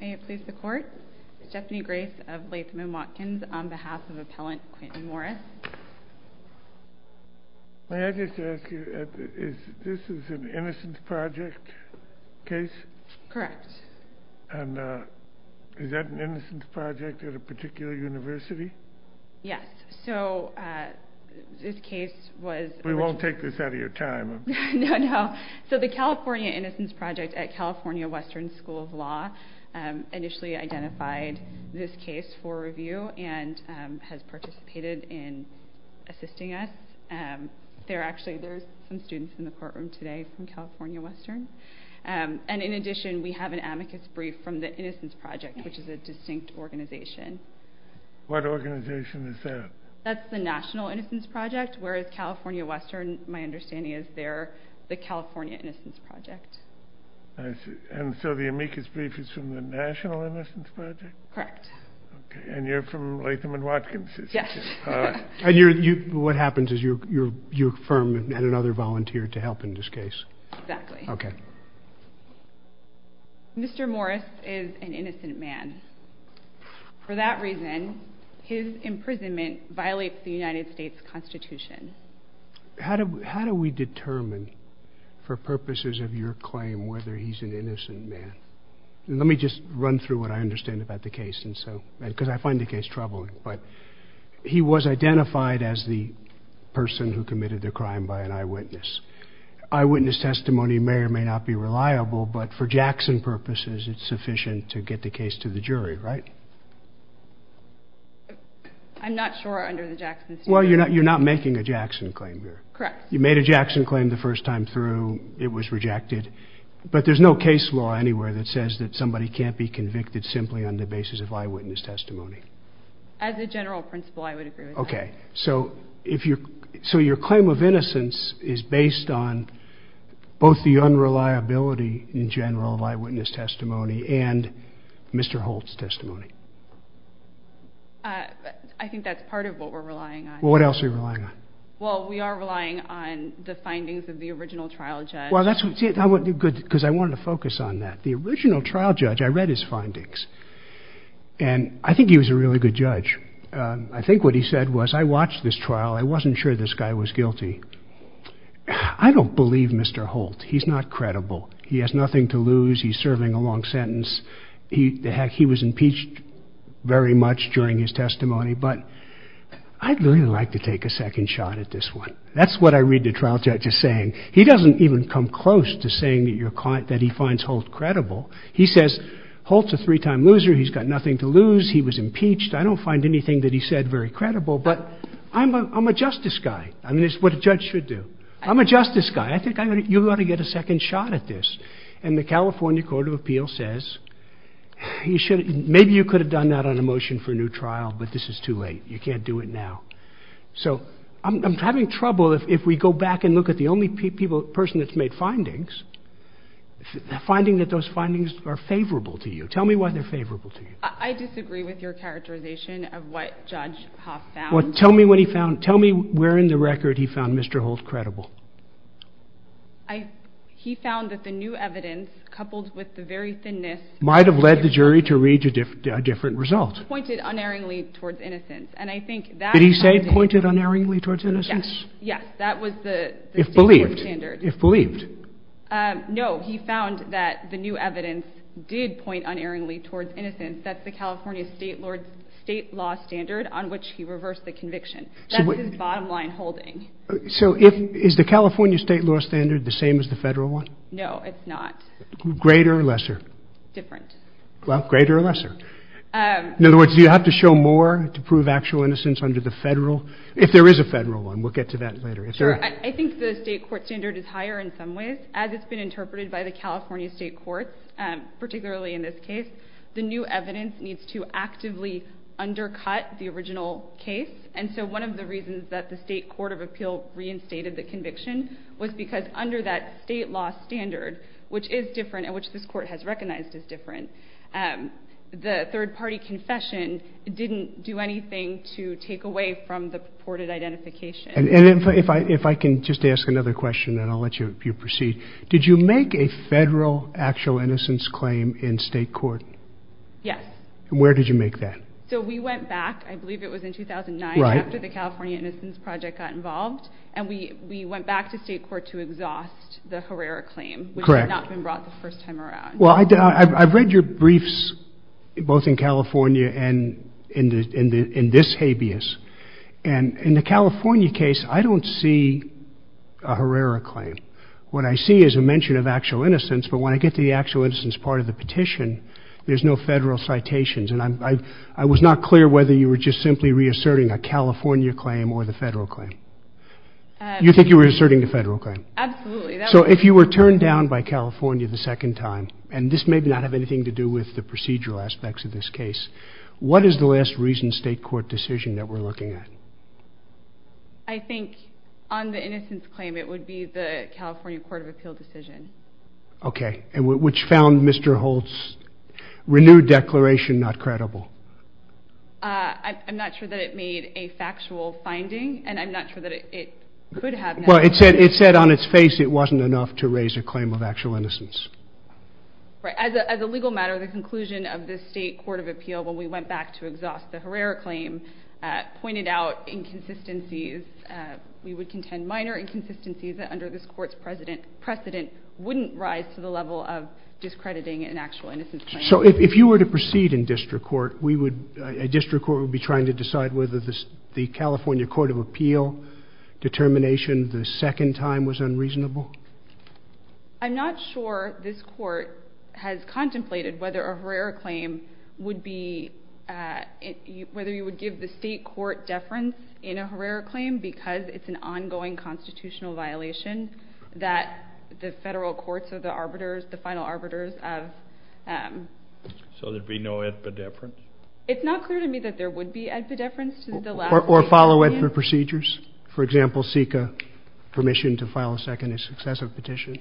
May I please report? Stephanie Grace of Latham & Watkins on behalf of Appellant Quintin Morris. May I just ask you, is this an Innocence Project case? Correct. And is that an Innocence Project at a particular university? Yes. So this case was... We won't take this out of your time. No, no. So the California Innocence Project at California Western School of Law initially identified this case for review and has participated in assisting us. There are actually some students in the courtroom today from California Western. And in addition, we have an amicus brief from the Innocence Project, which is a distinct organization. What organization is that? That's the National Innocence Project, whereas California Western, my understanding is they're the California Innocence Project. And so the amicus brief is from the National Innocence Project? Correct. And you're from Latham & Watkins? Yes. And what happens is you affirm that you had another volunteer to help in this case? Exactly. Okay. Mr. Morris is an innocent man. For that reason, his imprisonment violates the United States Constitution. How do we determine, for purposes of your claim, whether he's an innocent man? Let me just run through what I understand about the case, because I find the case troubling. But he was identified as the person who committed the crime by an eyewitness. Eyewitness testimony may or may not be reliable, but for Jackson purposes, it's sufficient to get the case to the jury, right? I'm not sure under the Jackson theory. Well, you're not making a Jackson claim here. Correct. You made a Jackson claim the first time through. It was rejected. But there's no case law anywhere that says that somebody can't be convicted simply on the basis of eyewitness testimony. As a general principle, I would agree with that. Okay. So your claim of innocence is based on both the unreliability, in general, of eyewitness testimony and Mr. Holt's testimony. I think that's part of what we're relying on. Well, what else are you relying on? Well, we are relying on the findings of the original trial judge. Well, that's good, because I want to focus on that. The original trial judge, I read his findings, and I think he was a really good judge. I think what he said was, I watched this trial. I wasn't sure this guy was guilty. I don't believe Mr. Holt. He's not credible. He has nothing to lose. He's serving a long sentence. He was impeached very much during his testimony, but I'd really like to take a second shot at this one. That's what I read the trial judge as saying. He doesn't even come close to saying that he finds Holt credible. He says, Holt's a three-time loser. He's got nothing to lose. He was impeached. I don't find anything that he said very credible, but I'm a justice guy. I mean, it's what a judge should do. I'm a justice guy. I think you ought to get a second shot at this. And the California Court of Appeals says, maybe you could have done that on a motion for a new trial, but this is too late. You can't do it now. So, I'm having trouble if we go back and look at the only person that's made findings, finding that those findings are favorable to you. Tell me why they're favorable to you. I disagree with your characterization of what Judge Haas found. Tell me what he found. Tell me where in the record he found Mr. Holt credible. He found that the new evidence, coupled with the very thinness... Might have led the jury to read a different result. Pointed unerringly towards innocence. Did he say pointed unerringly towards innocence? Yes. If believed. No, he found that the new evidence did point unerringly towards innocence. That's the California state law standard on which he reversed the conviction. That's his bottom line holding. So, is the California state law standard the same as the federal one? Greater or lesser? Different. Well, greater or lesser. In other words, do you have to show more to prove actual innocence under the federal? If there is a federal one, we'll get to that later. I think the state court standard is higher in some ways. As it's been interpreted by the California state courts, particularly in this case, the new evidence needs to actively undercut the original case. And so, one of the reasons that the state court of appeal reinstated the conviction was because under that state law standard, which is different and which this court has recognized is different, the third party confession didn't do anything to take away from the purported identification. And if I can just ask another question and I'll let you proceed. Did you make a federal actual innocence claim in state court? Yes. Where did you make that? So, we went back, I believe it was in 2009, after the California Innocence Project got involved, and we went back to state court to exhaust the Herrera claim, which had not been brought the first time around. Well, I've read your briefs both in California and in this habeas. And in the California case, I don't see a Herrera claim. What I see is a mention of actual innocence, but when I get to the actual innocence part of the petition, there's no federal citations. And I was not clear whether you were just simply reasserting a California claim or the federal claim. You think you were asserting the federal claim? Absolutely. So, if you were turned down by California the second time, and this may not have anything to do with the procedural aspects of this case, what is the last recent state court decision that we're looking at? I think on the innocence claim, it would be the California Court of Appeal decision. Okay. Which found Mr. Holt's renewed declaration not credible. I'm not sure that it made a factual finding, and I'm not sure that it could have. Well, it said on its face it wasn't enough to raise a claim of actual innocence. As a legal matter, the conclusion of this state court of appeal when we went back to exhaust the Herrera claim pointed out inconsistencies. We would contend minor inconsistencies under this court's precedent wouldn't rise to the level of discrediting an actual innocence claim. So, if you were to proceed in district court, a district court would be trying to decide whether the California Court of Appeal determination the second time was unreasonable? I'm not sure this court has contemplated whether a Herrera claim would be, whether you would give the state court deference in a Herrera claim because it's an ongoing constitutional violation that the federal courts of the arbiters, the final arbiters have. So, there'd be no Edba deference? It's not clear to me that there would be Edba deference. Or follow Edba procedures? For example, seek permission to file a second and successive petition?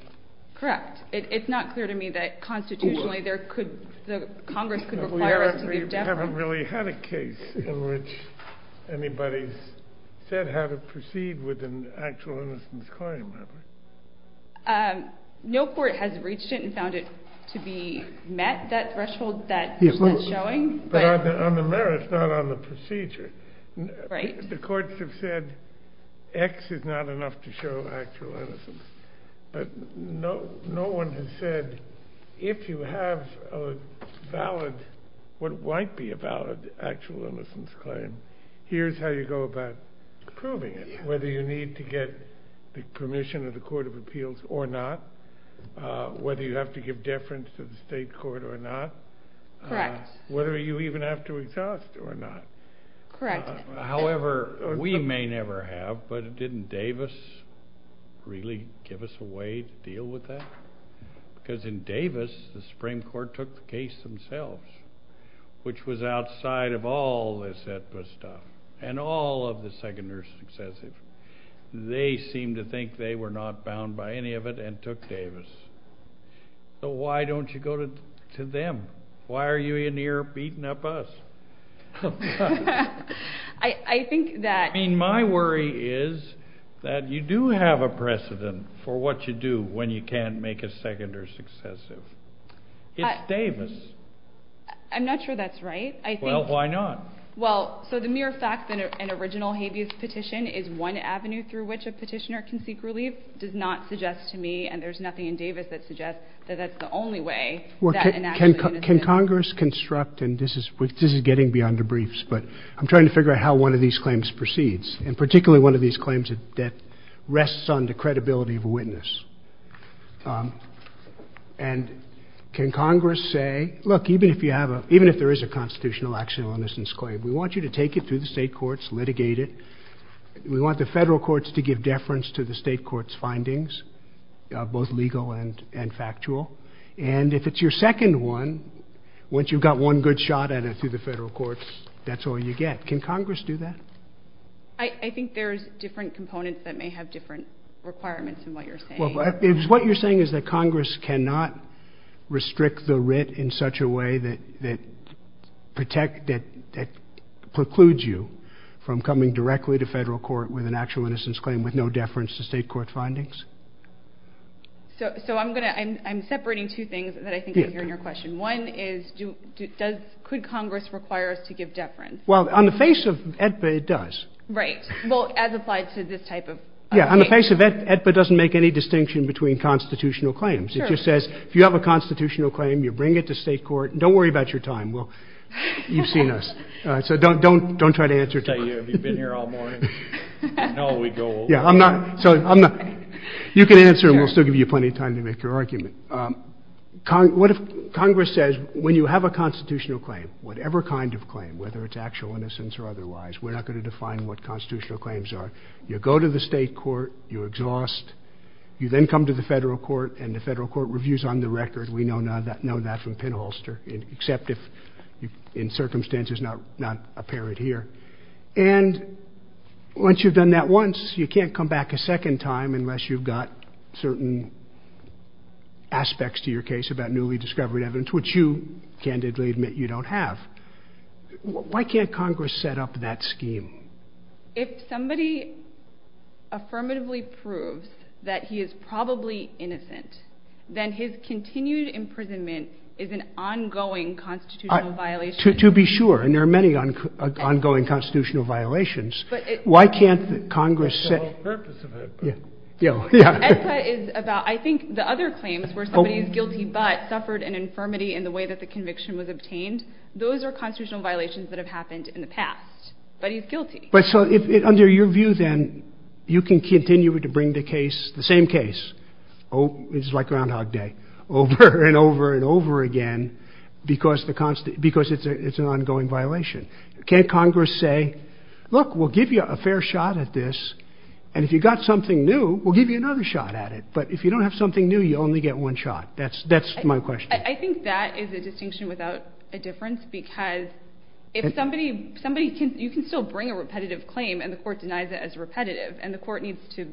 Correct. It's not clear to me that constitutionally there could, that Congress could require Edba deference. We haven't really had a case in which anybody said how to proceed with an actual innocence claim. No court has reached it and found it to be met, that threshold that is not showing. But on the merits, not on the procedure. The courts have said X is not enough to show actual innocence. But no one has said, if you have a valid, what might be a valid actual innocence claim, here's how you go about proving it. Whether you need to get the permission of the Court of Appeals or not, whether you have to give deference to the state court or not, whether you even have to exhaust or not. Correct. However, we may never have, but didn't Davis really give us a way to deal with that? Because in Davis, the Supreme Court took the case themselves, which was outside of all this at this time, and all of the second or successive. They seemed to think they were not bound by any of it and took Davis. So why don't you go to them? Why are you in here beating up us? I think that… I mean, my worry is that you do have a precedent for what you do when you can't make a second or successive. It's Davis. I'm not sure that's right. Well, why not? Well, so the mere fact that an original habeas petition is one avenue through which a petitioner can seek relief does not suggest to me, and there's nothing in Davis that suggests that that's the only way that an actual innocent… Can Congress construct, and this is getting beyond the briefs, but I'm trying to figure out how one of these claims proceeds, and particularly one of these claims that rests on the credibility of a witness. And can Congress say, look, even if you have a… even if there is a constitutional action on this claim, we want you to take it through the state courts, litigate it. We want the federal courts to give deference to the state court's findings, both legal and factual. And if it's your second one, once you've got one good shot at it through the federal courts, that's all you get. Can Congress do that? I think there's different components that may have different requirements in what you're saying. What you're saying is that Congress cannot restrict the writ in such a way that precludes you from coming directly to federal court with an actual innocence claim with no deference to state court findings? So I'm separating two things that I think I hear in your question. One is, could Congress require us to give deference? Well, on the face of it, it does. Right. Well, as applied to this type of case. Yeah, on the face of it, it doesn't make any distinction between constitutional claims. It just says, if you have a constitutional claim, you bring it to state court. Don't worry about your time. Well, you've seen us. So don't try to answer it. Have you been here all morning? No, we go over. You can answer, and we'll still give you plenty of time to make your argument. Congress says, when you have a constitutional claim, whatever kind of claim, whether it's actual innocence or otherwise, we're not going to define what constitutional claims are. You go to the state court, you exhaust, you then come to the federal court, and the federal court reviews on the record. We know that from pinholster, except if in circumstances not apparent here. And once you've done that once, you can't come back a second time unless you've got certain aspects to your case about newly discovered evidence, which you, candidly admit, you don't have. Why can't Congress set up that scheme? If somebody affirmatively proves that he is probably innocent, then his continued imprisonment is an ongoing constitutional violation. To be sure. And there are many ongoing constitutional violations. Why can't Congress set... That's the whole purpose of it. Yeah. I think the other claims, where somebody's guilty but suffered an infirmity in the way that the conviction was obtained, those are constitutional violations that have happened in the past. But he's guilty. So under your view then, you can continue to bring the case, the same case, it's like Groundhog Day, over and over and over again because it's an ongoing violation. Can't Congress say, look, we'll give you a fair shot at this, and if you've got something new, we'll give you another shot at it. But if you don't have something new, you only get one shot. That's my question. I think that is a distinction without a difference because you can still bring a repetitive claim and the court denies it as repetitive and the court needs to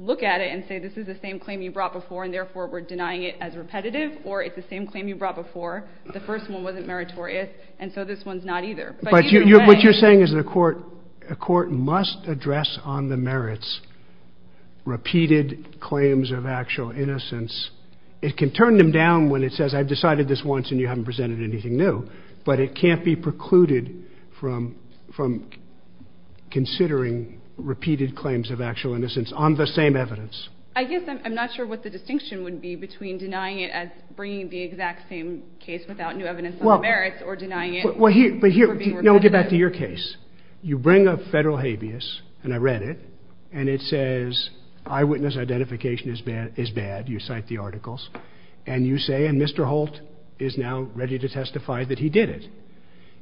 look at it and say, this is the same claim you brought before and therefore we're denying it as repetitive or it's the same claim you brought before. The first one wasn't meritorious and so this one's not either. But what you're saying is a court must address on the merits repeated claims of actual innocence. It can turn them down when it says, I've decided this once and you haven't presented anything new. But it can't be precluded from considering repeated claims of actual innocence on the same evidence. I guess I'm not sure what the distinction would be between denying it as bringing the exact same case without new evidence on the merits or denying it. Well, here, get back to your case. You bring up federal habeas, and I read it, and it says eyewitness identification is bad, you cite the articles, and you say, and Mr. Holt is now ready to testify that he did it.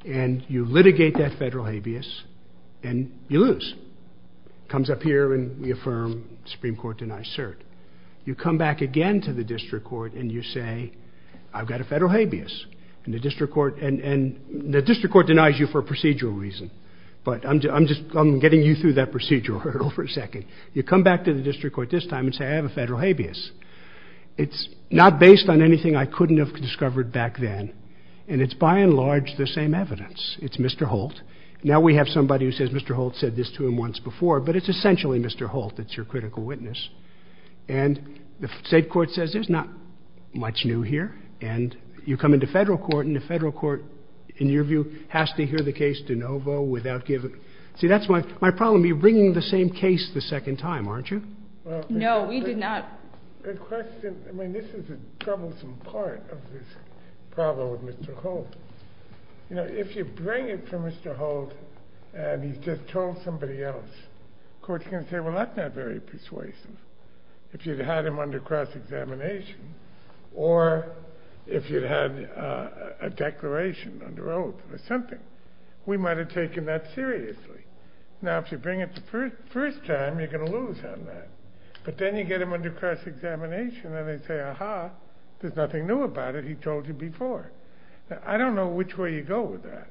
And you litigate that federal habeas and you lose. Comes up here and we affirm Supreme Court denies cert. You come back again to the district court and you say, I've got a federal habeas. And the district court denies you for a procedural reason. But I'm getting you through that procedural hurdle for a second. You come back to the district court this time and say, I have a federal habeas. It's not based on anything I couldn't have discovered back then. And it's by and large the same evidence. It's Mr. Holt. Now we have somebody who says Mr. Holt said this to him once before, but it's essentially Mr. Holt that's your critical witness. And the state court says there's not much new here. And you come into federal court, and the federal court, in your view, has to hear the case de novo without giving. See, that's my problem. You're bringing the same case the second time, aren't you? No, we do not. Good question. I mean, this is the troublesome part of this problem with Mr. Holt. You know, if you bring it to Mr. Holt and he just told somebody else, the court's going to say, well, that's not very persuasive. If you'd had him under cross-examination or if you'd had a declaration under oath or something, we might have taken that seriously. Now, if you bring it the first time, you're going to lose on that. But then you get him under cross-examination, and they say, aha, there's nothing new about it. He told you before. I don't know which way you go with that.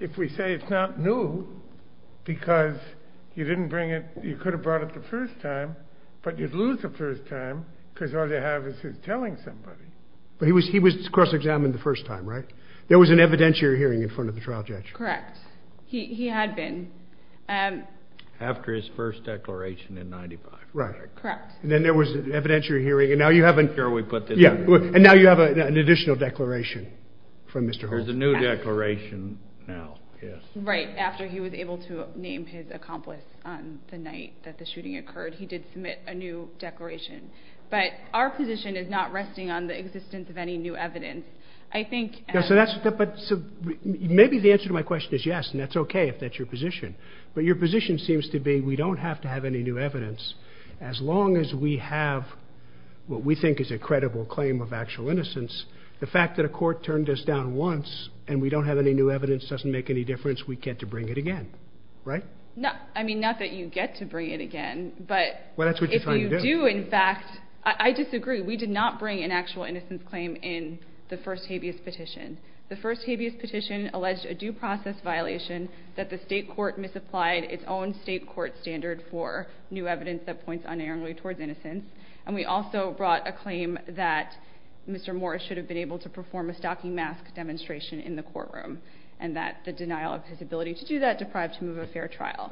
If we say it's not new because you didn't bring it, you could have brought it the first time, but you'd lose the first time because all you have is him telling somebody. But he was cross-examined the first time, right? There was an evidentiary hearing in front of the trial judge. Correct. He had been. After his first declaration in 1995. Right. Correct. Then there was an evidentiary hearing, and now you have an additional declaration from Mr. Holt. There's a new declaration now, yes. Right, after he was able to name his accomplice the night that the shooting occurred. He did submit a new declaration. But our position is not resting on the existence of any new evidence. Maybe the answer to my question is yes, and that's okay if that's your position. But your position seems to be we don't have to have any new evidence. As long as we have what we think is a credible claim of actual innocence, the fact that a court turned us down once and we don't have any new evidence doesn't make any difference. We get to bring it again, right? Not that you get to bring it again, but if you do, in fact, I disagree. We did not bring an actual innocence claim in the first habeas petition. The first habeas petition alleged a due process violation that the state court misapplied its own state court standard for new evidence that points unerringly towards innocence, and we also brought a claim that Mr. Morris should have been able to perform a stocking mask demonstration in the courtroom and that the denial of his ability to do that deprived him of a fair trial.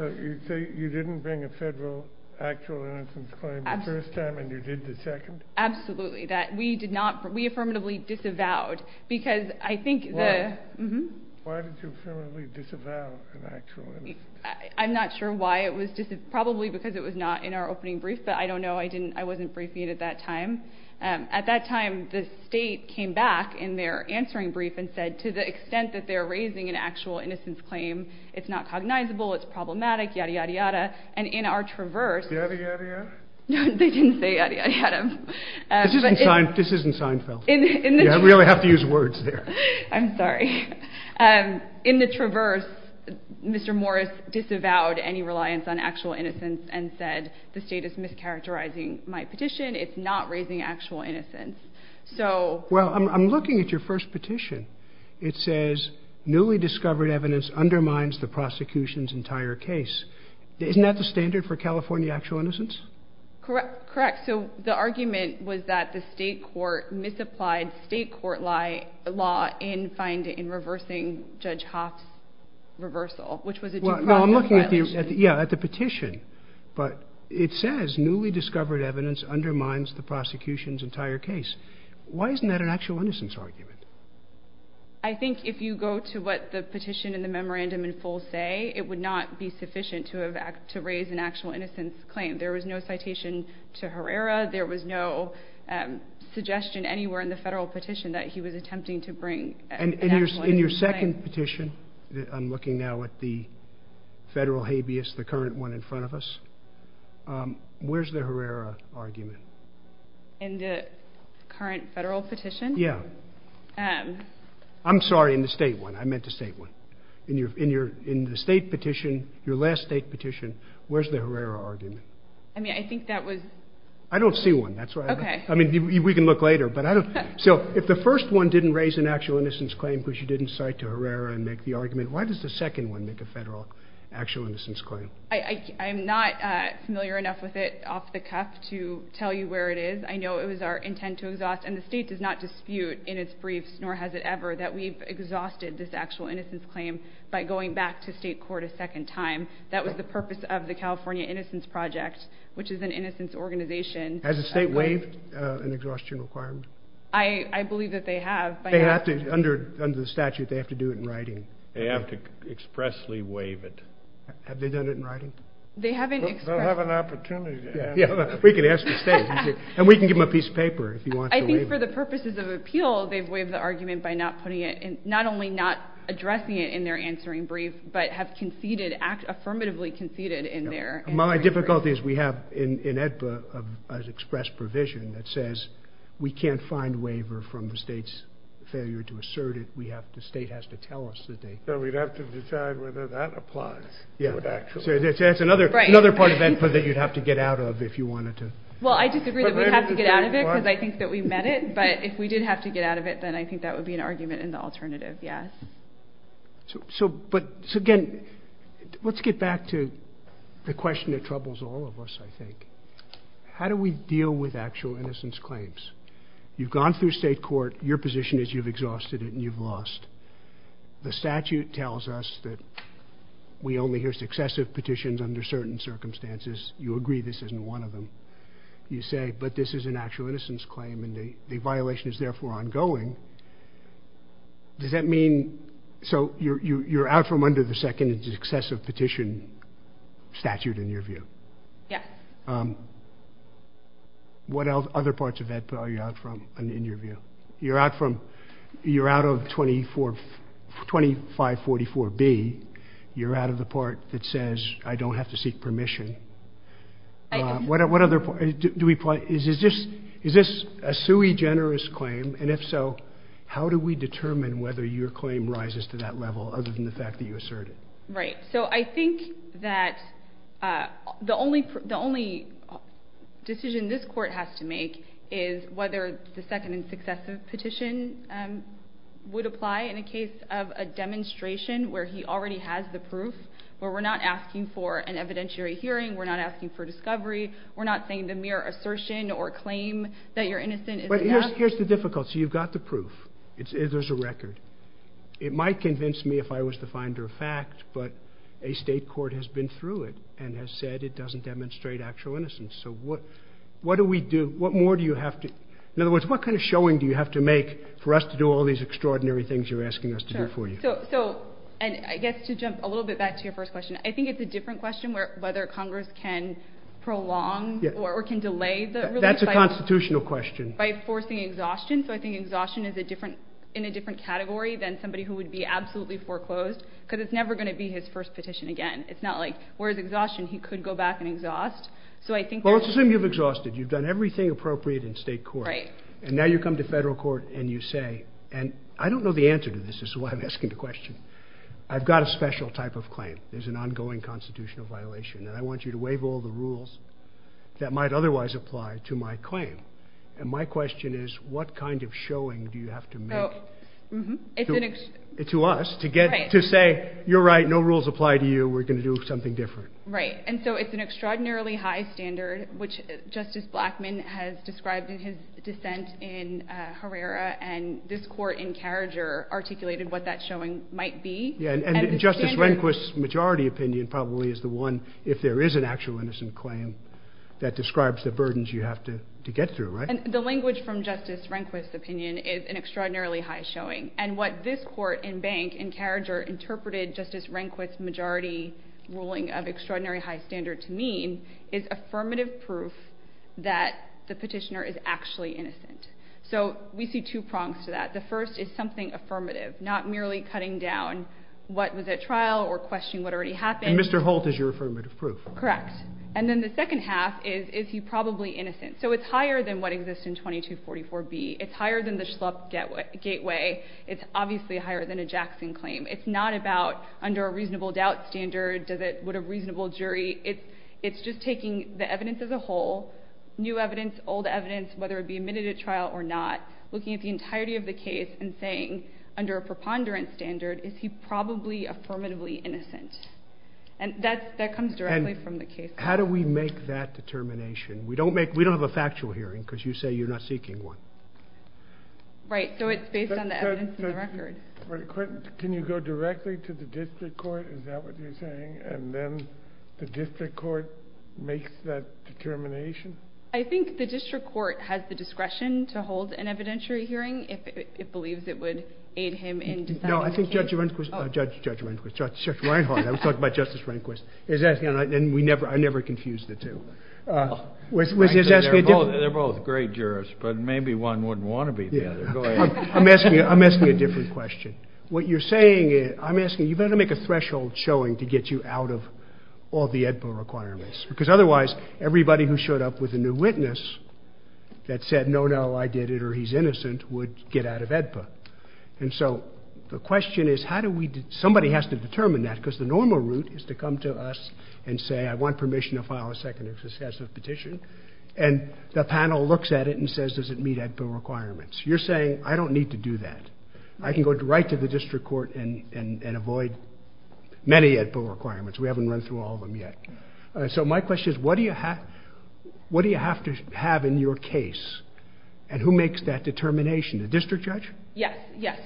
So you didn't bring a federal actual innocence claim the first time and you did the second? Absolutely. We affirmatively disavowed. Why did you affirmatively disavow an actual innocence claim? I'm not sure why it was disavowed. Probably because it was not in our opening brief. I don't know. I wasn't briefing you at that time. At that time, the state came back in their answering brief and said to the extent that they're raising an actual innocence claim, it's not cognizable, it's problematic, yada, yada, yada. And in our traverse, Yada, yada, yada? They didn't say yada, yada. This isn't Seinfeld. We don't have to use words here. I'm sorry. In the traverse, Mr. Morris disavowed any reliance on actual innocence and said the state is mischaracterizing my petition. It's not raising actual innocence. Well, I'm looking at your first petition. It says newly discovered evidence undermines the prosecution's entire case. Isn't that the standard for California actual innocence? Correct. So the argument was that the state court misapplied state court law in reversing Judge Hoff's reversal, which was a depression. Well, I'm looking at the petition. But it says newly discovered evidence undermines the prosecution's entire case. Why isn't that an actual innocence argument? I think if you go to what the petition and the memorandum in full say, it would not be sufficient to raise an actual innocence claim. There was no citation to Herrera. There was no suggestion anywhere in the federal petition that he was attempting to bring an actual innocence claim. In your second petition, I'm looking now at the federal habeas, the current one in front of us, where's the Herrera argument? In the current federal petition? Yeah. I'm sorry, in the state one. I meant the state one. In the state petition, your last state petition, where's the Herrera argument? I mean, I think that was... I don't see one. Okay. I mean, we can look later. So if the first one didn't raise an actual innocence claim because you didn't cite to Herrera and make the argument, why does the second one make a federal actual innocence claim? I'm not familiar enough with it off the cuff to tell you where it is. I know it was our intent to exhaust, and the state does not dispute in its briefs, nor has it ever, that we've exhausted this actual innocence claim by going back to state court a second time. That was the purpose of the California Innocence Project, which is an innocence organization. Has the state waived an exhaustion requirement? I believe that they have. Under the statute, they have to do it in writing. They have to expressly waive it. Have they done it in writing? They'll have an opportunity to. We can ask the state. And we can give them a piece of paper if you want to waive it. I think for the purposes of appeal, they've waived the argument by not putting it in... not only not addressing it in their answering brief, but have conceded, affirmatively conceded in their... My difficulty is we have, in AEDPA, an express provision that says we can't find waiver from the state's failure to assert it. The state has to tell us that they... So we'd have to decide whether that applies. So that's another part of that input that you'd have to get out of if you wanted to... Well, I disagree that we'd have to get out of it because I think that we've met it. But if we did have to get out of it, then I think that would be an argument in the alternative, yes. So again, let's get back to the question that troubles all of us, I think. How do we deal with actual innocence claims? You've gone through state court. Your position is you've exhausted it and you've lost. The statute tells us that we only hear successive petitions under certain circumstances. You agree this isn't one of them. You say, but this is an actual innocence claim and the violation is therefore ongoing. Does that mean... So you're out from under the second successive petition statute, in your view? Yes. What other parts of AEDPA are you out from, in your view? You're out of 2544B. You're out of the part that says, I don't have to seek permission. Is this a sui generis claim? And if so, how do we determine whether your claim rises to that level other than the fact that you assert it? Right. So I think that the only decision this court has to make is whether the second and successive petition would apply in a case of a demonstration where he already has the proof, where we're not asking for an evidentiary hearing, we're not asking for discovery, we're not saying the mere assertion or claim that you're innocent is enough. Here's the difficulty. You've got the proof. There's a record. It might convince me if I was the finder of fact, but a state court has been through it and has said it doesn't demonstrate actual innocence. So what do we do? What more do you have to... In other words, what kind of showing do you have to make for us to do all these extraordinary things you're asking us to do for you? So, and I guess to jump a little bit back to your first question, I think it's a different question whether Congress can prolong or can delay the release... That's a constitutional question. ...by forcing exhaustion. So I think exhaustion is in a different category than somebody who would be absolutely foreclosed because it's never going to be his first petition again. It's not like, where's exhaustion? He could go back and exhaust. So I think... Well, let's assume you've exhausted. You've done everything appropriate in state court. Right. And now you come to federal court and you say, and I don't know the answer to this. This is why I'm asking the question. I've got a special type of claim. There's an ongoing constitutional violation, and I want you to waive all the rules that might otherwise apply to my claim. And my question is, what kind of showing do you have to make to us to say, you're right, no rules apply to you, we're going to do something different? Right. And so it's an extraordinarily high standard, which Justice Blackmun has described in his dissent in Herrera, and this court in Carriager articulated what that showing might be. And Justice Rehnquist's majority opinion probably is the one, if there is an actual innocent claim, that describes the burdens you have to get through, right? And the language from Justice Rehnquist's opinion is an extraordinarily high showing. And what this court in Bank in Carriager interpreted Justice Rehnquist's majority ruling of extraordinary high standards mean is affirmative proof that the petitioner is actually innocent. So we see two prongs to that. The first is something affirmative, not merely cutting down what was at trial or questioning what already happened. And Mr. Holt is your affirmative proof. Correct. And then the second half is, is he probably innocent? So it's higher than what exists in 2244B. It's higher than the Schlupf gateway. It's obviously higher than a Jackson claim. It's not about, under a reasonable doubt standard, would a reasonable jury? It's just taking the evidence as a whole, new evidence, old evidence, whether it be admitted at trial or not, looking at the entirety of the case and saying, under a preponderance standard, is he probably affirmatively innocent? And that comes directly from the case. How do we make that determination? We don't have a factual hearing because you say you're not seeking one. Right. So it's based on the evidence in the record. Can you go directly to the district court? Is that what you're saying? And then the district court makes that determination? I think the district court has the discretion to hold an evidentiary hearing if it believes it would aid him in determining the case. No, I think Judge Reinhart, I was talking about Justice Reinhart, and I never confuse the two. They're both great jurors, but maybe one wouldn't want to be there. I'm asking a different question. What you're saying is, I'm asking, you've got to make a threshold showing to get you out of all the AEDPA requirements because otherwise everybody who showed up with a new witness that said, no, no, I did it or he's innocent, would get out of AEDPA. And so the question is, somebody has to determine that because the normal route is to come to us and say, I want permission to file a second excessive petition, and the panel looks at it and says, does it meet AEDPA requirements? You're saying, I don't need to do that. I can go right to the district court and avoid many AEDPA requirements. We haven't run through all of them yet. So my question is, what do you have to have in your case? And who makes that determination? The district judge? Yes.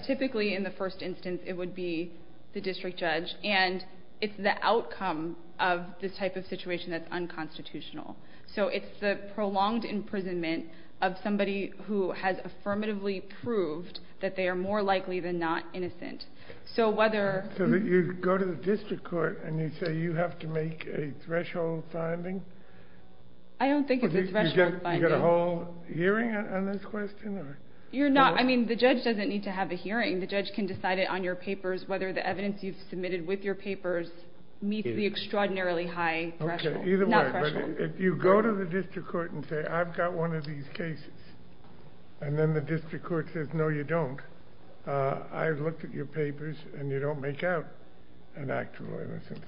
Typically in the first instance it would be the district judge, and it's the outcome of this type of situation that's unconstitutional. So it's the prolonged imprisonment of somebody who has affirmatively proved that they are more likely than not innocent. So you go to the district court and you say you have to make a threshold finding? I don't think it's a threshold finding. Do you get a whole hearing on this question? No. I mean, the judge doesn't need to have the hearing. The judge can decide it on your papers, whether the evidence you've submitted with your papers meets the extraordinarily high threshold. Okay. Either way. If you go to the district court and say, I've got one of these cases, and then the district court says, no, you don't, I've looked at your papers and you don't make out an act of innocence.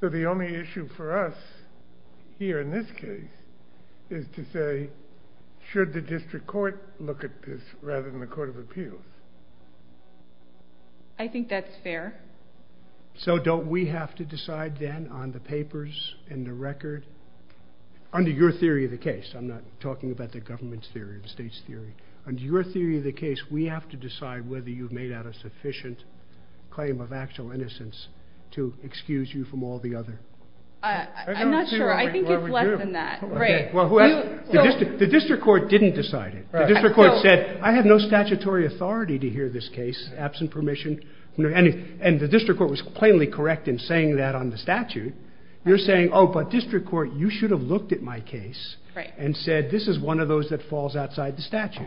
So the only issue for us here in this case is to say, should the district court look at this rather than the court of appeals? I think that's fair. So don't we have to decide then on the papers and the record? Under your theory of the case, I'm not talking about the government's theory or the state's theory. Under your theory of the case, we have to decide whether you've made out a sufficient claim of actual innocence to excuse you from all the other. I'm not sure. I think it's less than that. The district court didn't decide it. The district court said, I have no statutory authority to hear this case absent permission. And the district court was plainly correct in saying that on the statute. You're saying, oh, but district court, you should have looked at my case and said, this is one of those that falls outside the statute.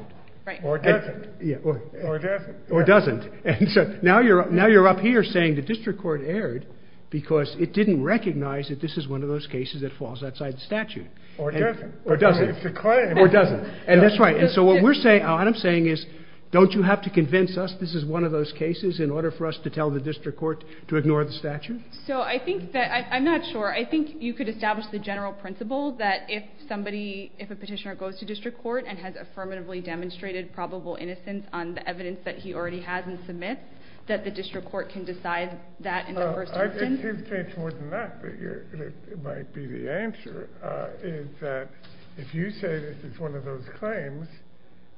Or doesn't. Or doesn't. Or doesn't. And so now you're up here saying the district court erred because it didn't recognize that this is one of those cases that falls outside the statute. Or doesn't. Or doesn't. Or doesn't. And that's right. And so what we're saying, what I'm saying is, don't you have to convince us this is one of those cases in order for us to tell the district court to ignore the statute? So I think that, I'm not sure. I think you could establish the general principle that if somebody, if a petitioner goes to district court and has affirmatively demonstrated probable innocence on the evidence that he already has and submits, that the district court can decide that. It might be the answer. If you say this is one of those claims.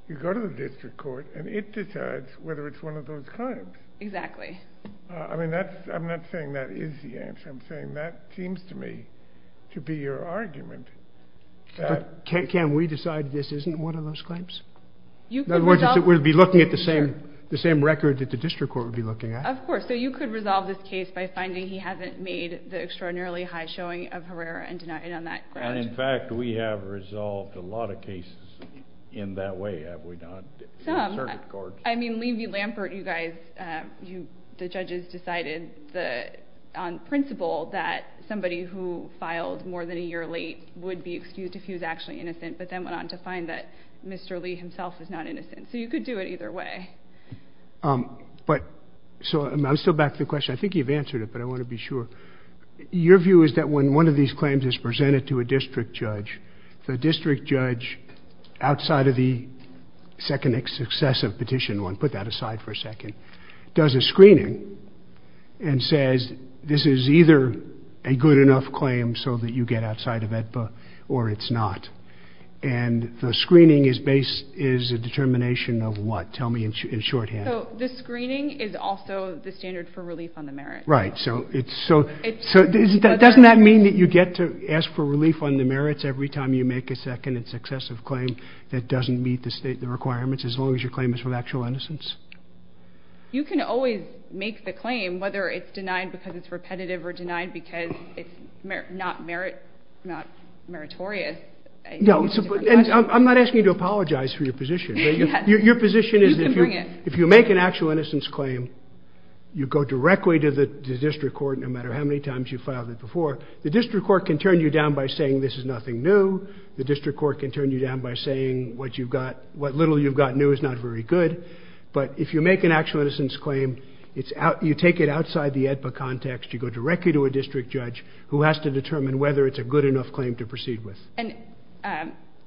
You go to the district court and it decides whether it's one of those claims. Exactly. I mean, that's, I'm not saying that is the answer. I'm saying that seems to me. To be your argument. Can we decide this isn't one of those claims? We'll be looking at the same, the same record that the district court would be looking at. Of course. So you could resolve this case by finding he hasn't made the extraordinarily high showing of Herrera and denying on that. And in fact, we have resolved a lot of cases in that way. I mean, leave you Lampert, you guys, you, the judges decided the principle that somebody who files more than a year late would be excused if he was actually innocent, but then went on to find that Mr. Lee himself is not innocent. So you could do it either way. But so I'm still back to the question. I think you've answered it, but I want to be sure your view is that when one of these claims is presented to a district judge, the district judge outside of the second successive petition one, put that aside for a second, does a screening and says, This is either a good enough claim so that you get outside of that book or it's not. And the screening is based is a determination of what tell me in shorthand. The screening is also the standard for relief on the merit. Right. So it's so, so that doesn't that mean that you get to ask for relief on the merits every time you make a second, it's excessive claim that doesn't meet the state, the requirements, as long as your claim is for the actual innocence. You can always make the claim, whether it's denied because it's repetitive or denied, because it's not merit, not meritorious. I'm not asking you to apologize for your position. Your position is, if you make an actual innocence claim, you go directly to the district court, no matter how many times you filed it before the district court can turn you down by saying, this is nothing new. The district court can turn you down by saying what you've got, what little you've got new is not very good. But if you make an actual innocence claim, it's out, you take it outside the context. You go directly to a district judge who has to determine whether it's a good enough claim to proceed with. And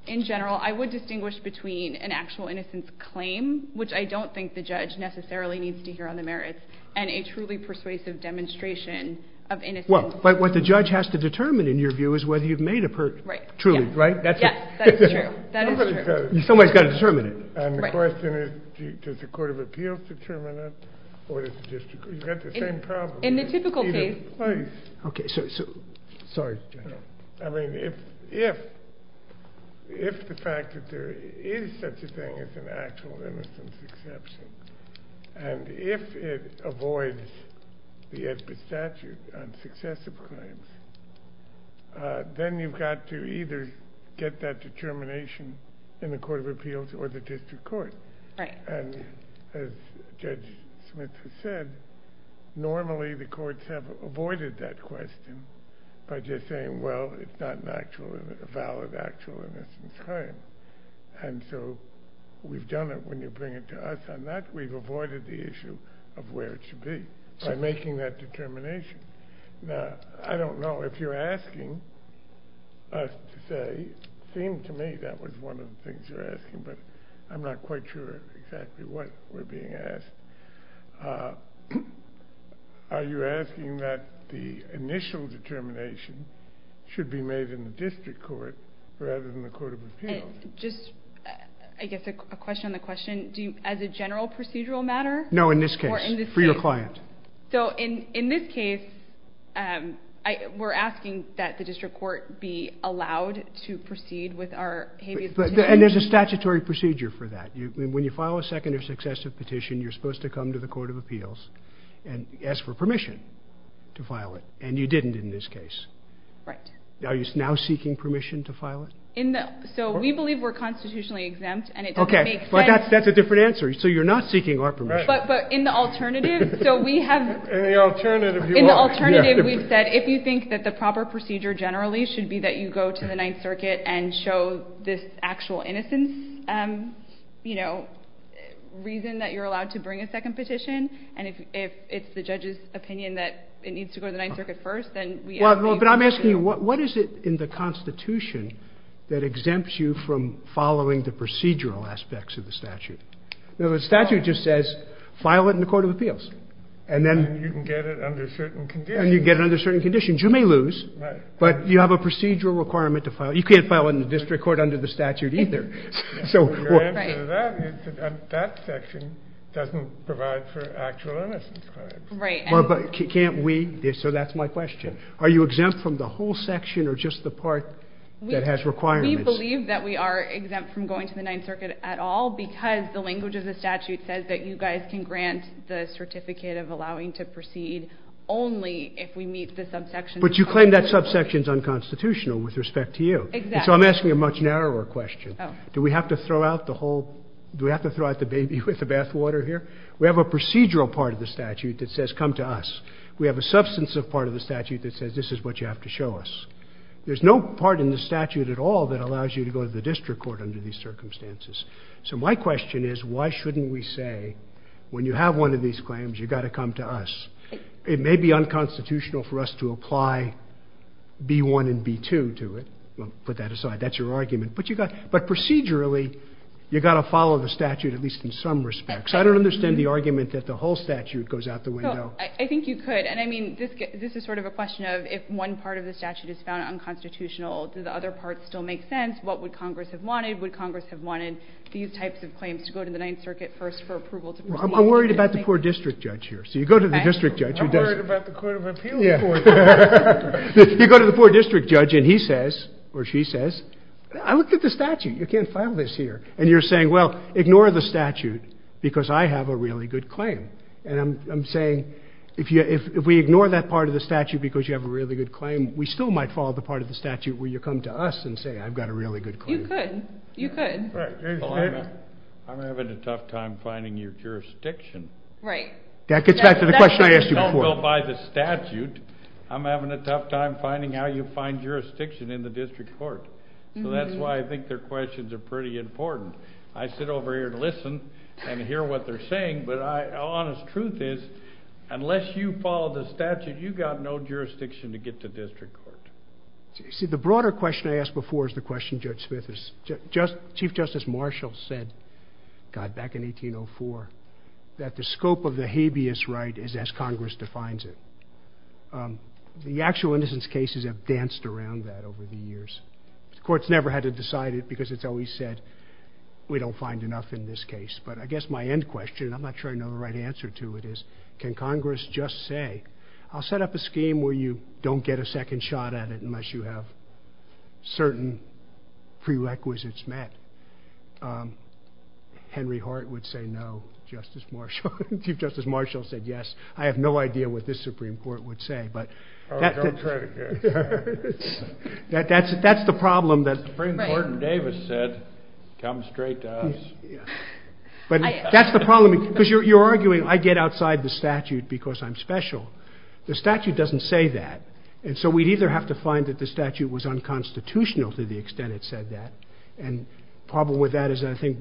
in general, I would distinguish between an actual innocence claim, which I don't think the judge necessarily needs to hear on the merits and a truly persuasive demonstration of, well, but what the judge has to determine in your view is whether you've made a true, right. Somebody's got to determine it. And the question is, does the court of appeals determine it or the district? You've got the same problem. In the typical case. Okay. So, sorry. I mean, if, if, if the fact that there is such a thing as an actual innocence exception, and if it avoids the SBIT statute unsuccessfully, then you've got to either get that determination in the court of appeals or the district court. And as judge Smith said, normally the courts have avoided that question by just saying, well, it's not an actual, a valid, actual innocence claim. And so we've done it when you bring it to us on that, we've avoided the issue of where it should be by making that determination. Now, I don't know if you're asking us to say, it seemed to me that was one of the things you're asking, but I'm not quite sure exactly what we're being asked. Are you asking that the initial determination should be made in the district court rather than the court of appeals? Just, I guess a question on the question, do you, as a general procedural matter? No, in this case for your client. So in, in this case, I, we're asking that the district court be allowed to proceed with our. And there's a statutory procedure for that. When you file a second or successive petition, you're supposed to come to the court of appeals and ask for permission to file it. And you didn't, in this case, right now, he's now seeking permission to file it. So we believe we're constitutionally exempt and it doesn't make sense. That's a different answer. So you're not seeking our permission, but in the alternative, so we have an alternative. We've said, if you think that the proper procedure generally should be that you go to the ninth circuit first, then you have this actual innocence, you know, reason that you're allowed to bring a second petition. And if, if it's the judge's opinion that it needs to go to the ninth circuit first, then we, but I'm asking what, what is it in the constitution that exempts you from following the procedural aspects of the statute? The statute just says, file it in the court of appeals. And then you can get it under certain conditions. You get it under certain conditions. You may lose, but you have a procedural requirement to file. You can't file it in the district court under the statute either. So that section doesn't provide for actual innocence. Right. Can't we. So that's my question. Are you exempt from the whole section or just the part that has requirements? We believe that we are exempt from going to the ninth circuit at all, because the language of the statute says that you guys can grant the certificate of allowing to proceed only if we meet the subsection. But you claim that subsection is unconstitutional with respect to you. So I'm asking a much narrower question. Do we have to throw out the whole, do we have to throw out the baby with the bathwater here? We have a procedural part of the statute that says, come to us. We have a substance of part of the statute that says, this is what you have to show us. There's no part in the statute at all that allows you to go to the district court under these circumstances. So my question is, why shouldn't we say when you have one of these claims, you got to come to us. It may be unconstitutional for us to apply B1 and B2 to it. We'll put that aside. That's your argument. But you got, but procedurally, you got to follow the statute at least in some respects. I don't understand the argument that the whole statute goes out the window. I think you could. And I mean, this is sort of a question of if one part of the statute is found unconstitutional, does the other parts still make sense? What would Congress have wanted? Would Congress have wanted these types of claims to go to the ninth circuit first for approval? I'm worried about the poor district judge here. So you go to the district judge. You go to the poor district judge and he says, or she says, I looked at the statute. You can't file this here. And you're saying, well, ignore the statute because I have a really good claim. And I'm saying, if you, if we ignore that part of the statute, because you have a really good claim, we still might follow the part of the statute where you come to us and say, I've got a really good. You could. I'm having a tough time finding your jurisdiction. Right. That gets back to the question I asked you before. By the statute, I'm having a tough time finding how you find jurisdiction in the district court. So that's why I think their questions are pretty important. I sit over here to listen and hear what they're saying, but I honest truth is, unless you follow the statute, you've got no jurisdiction to get to district court. See, the broader question I asked before is the question judge Smith is just chief justice. And the question I asked was, And the reason is, is because the Marshall said, God, back in 1804, that the scope of the habeas right is as Congress defines it. The actual innocence cases have danced around that over the years. It's courts never had to decide it because it's always said we don't find enough in this case, but I guess my end question, I'm not trying to know the right answer to it is, can Congress just say, I'll set up a scheme where you don't get a second shot at it, unless you have certain prerequisites met? Henry Hart would say, no, Justice Marshall, Chief Justice Marshall said, yes, I have no idea what this Supreme Court would say, but that's the problem that that's the problem because you're arguing, I get outside the statute because I'm special. The statute doesn't say that. And so we'd either have to find that the statute was unconstitutional to the extent it said that. And problem with that is, I think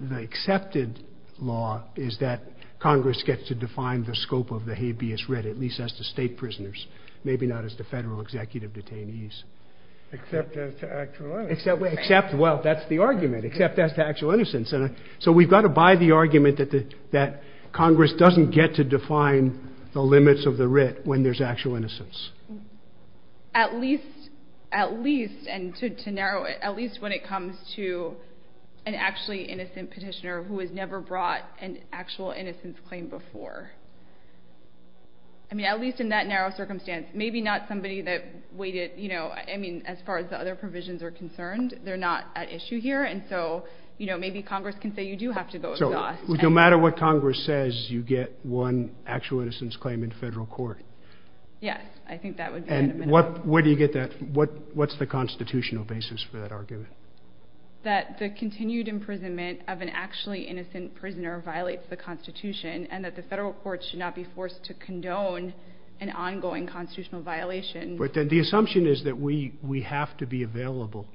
the accepted law is that Congress gets to define the scope of the habeas writ, at least as the state prisoners, maybe not as the federal executive detainees, except that's the argument, except that's the actual innocence. And so we've got to buy the argument that the, that Congress doesn't get to define the limits of the writ when there's actual innocence. At least, at least, and to narrow it, at least when it comes to an actually innocent petitioner who has never brought an actual innocence claim before. I mean, at least in that narrow circumstance, maybe not somebody that waited, you know, I mean, as far as the other provisions are concerned, they're not at issue here. And so, you know, maybe Congress can say, you do have to go. No matter what Congress says, you get one actual innocence claim in federal court. Yes. I think that was, and what, where do you get that? What, what's the constitutional basis for that argument? That the continued imprisonment of an actually innocent prisoner violates the constitution and that the federal courts should not be forced to condone an ongoing constitutional violation. But then the assumption is that we, we have to be available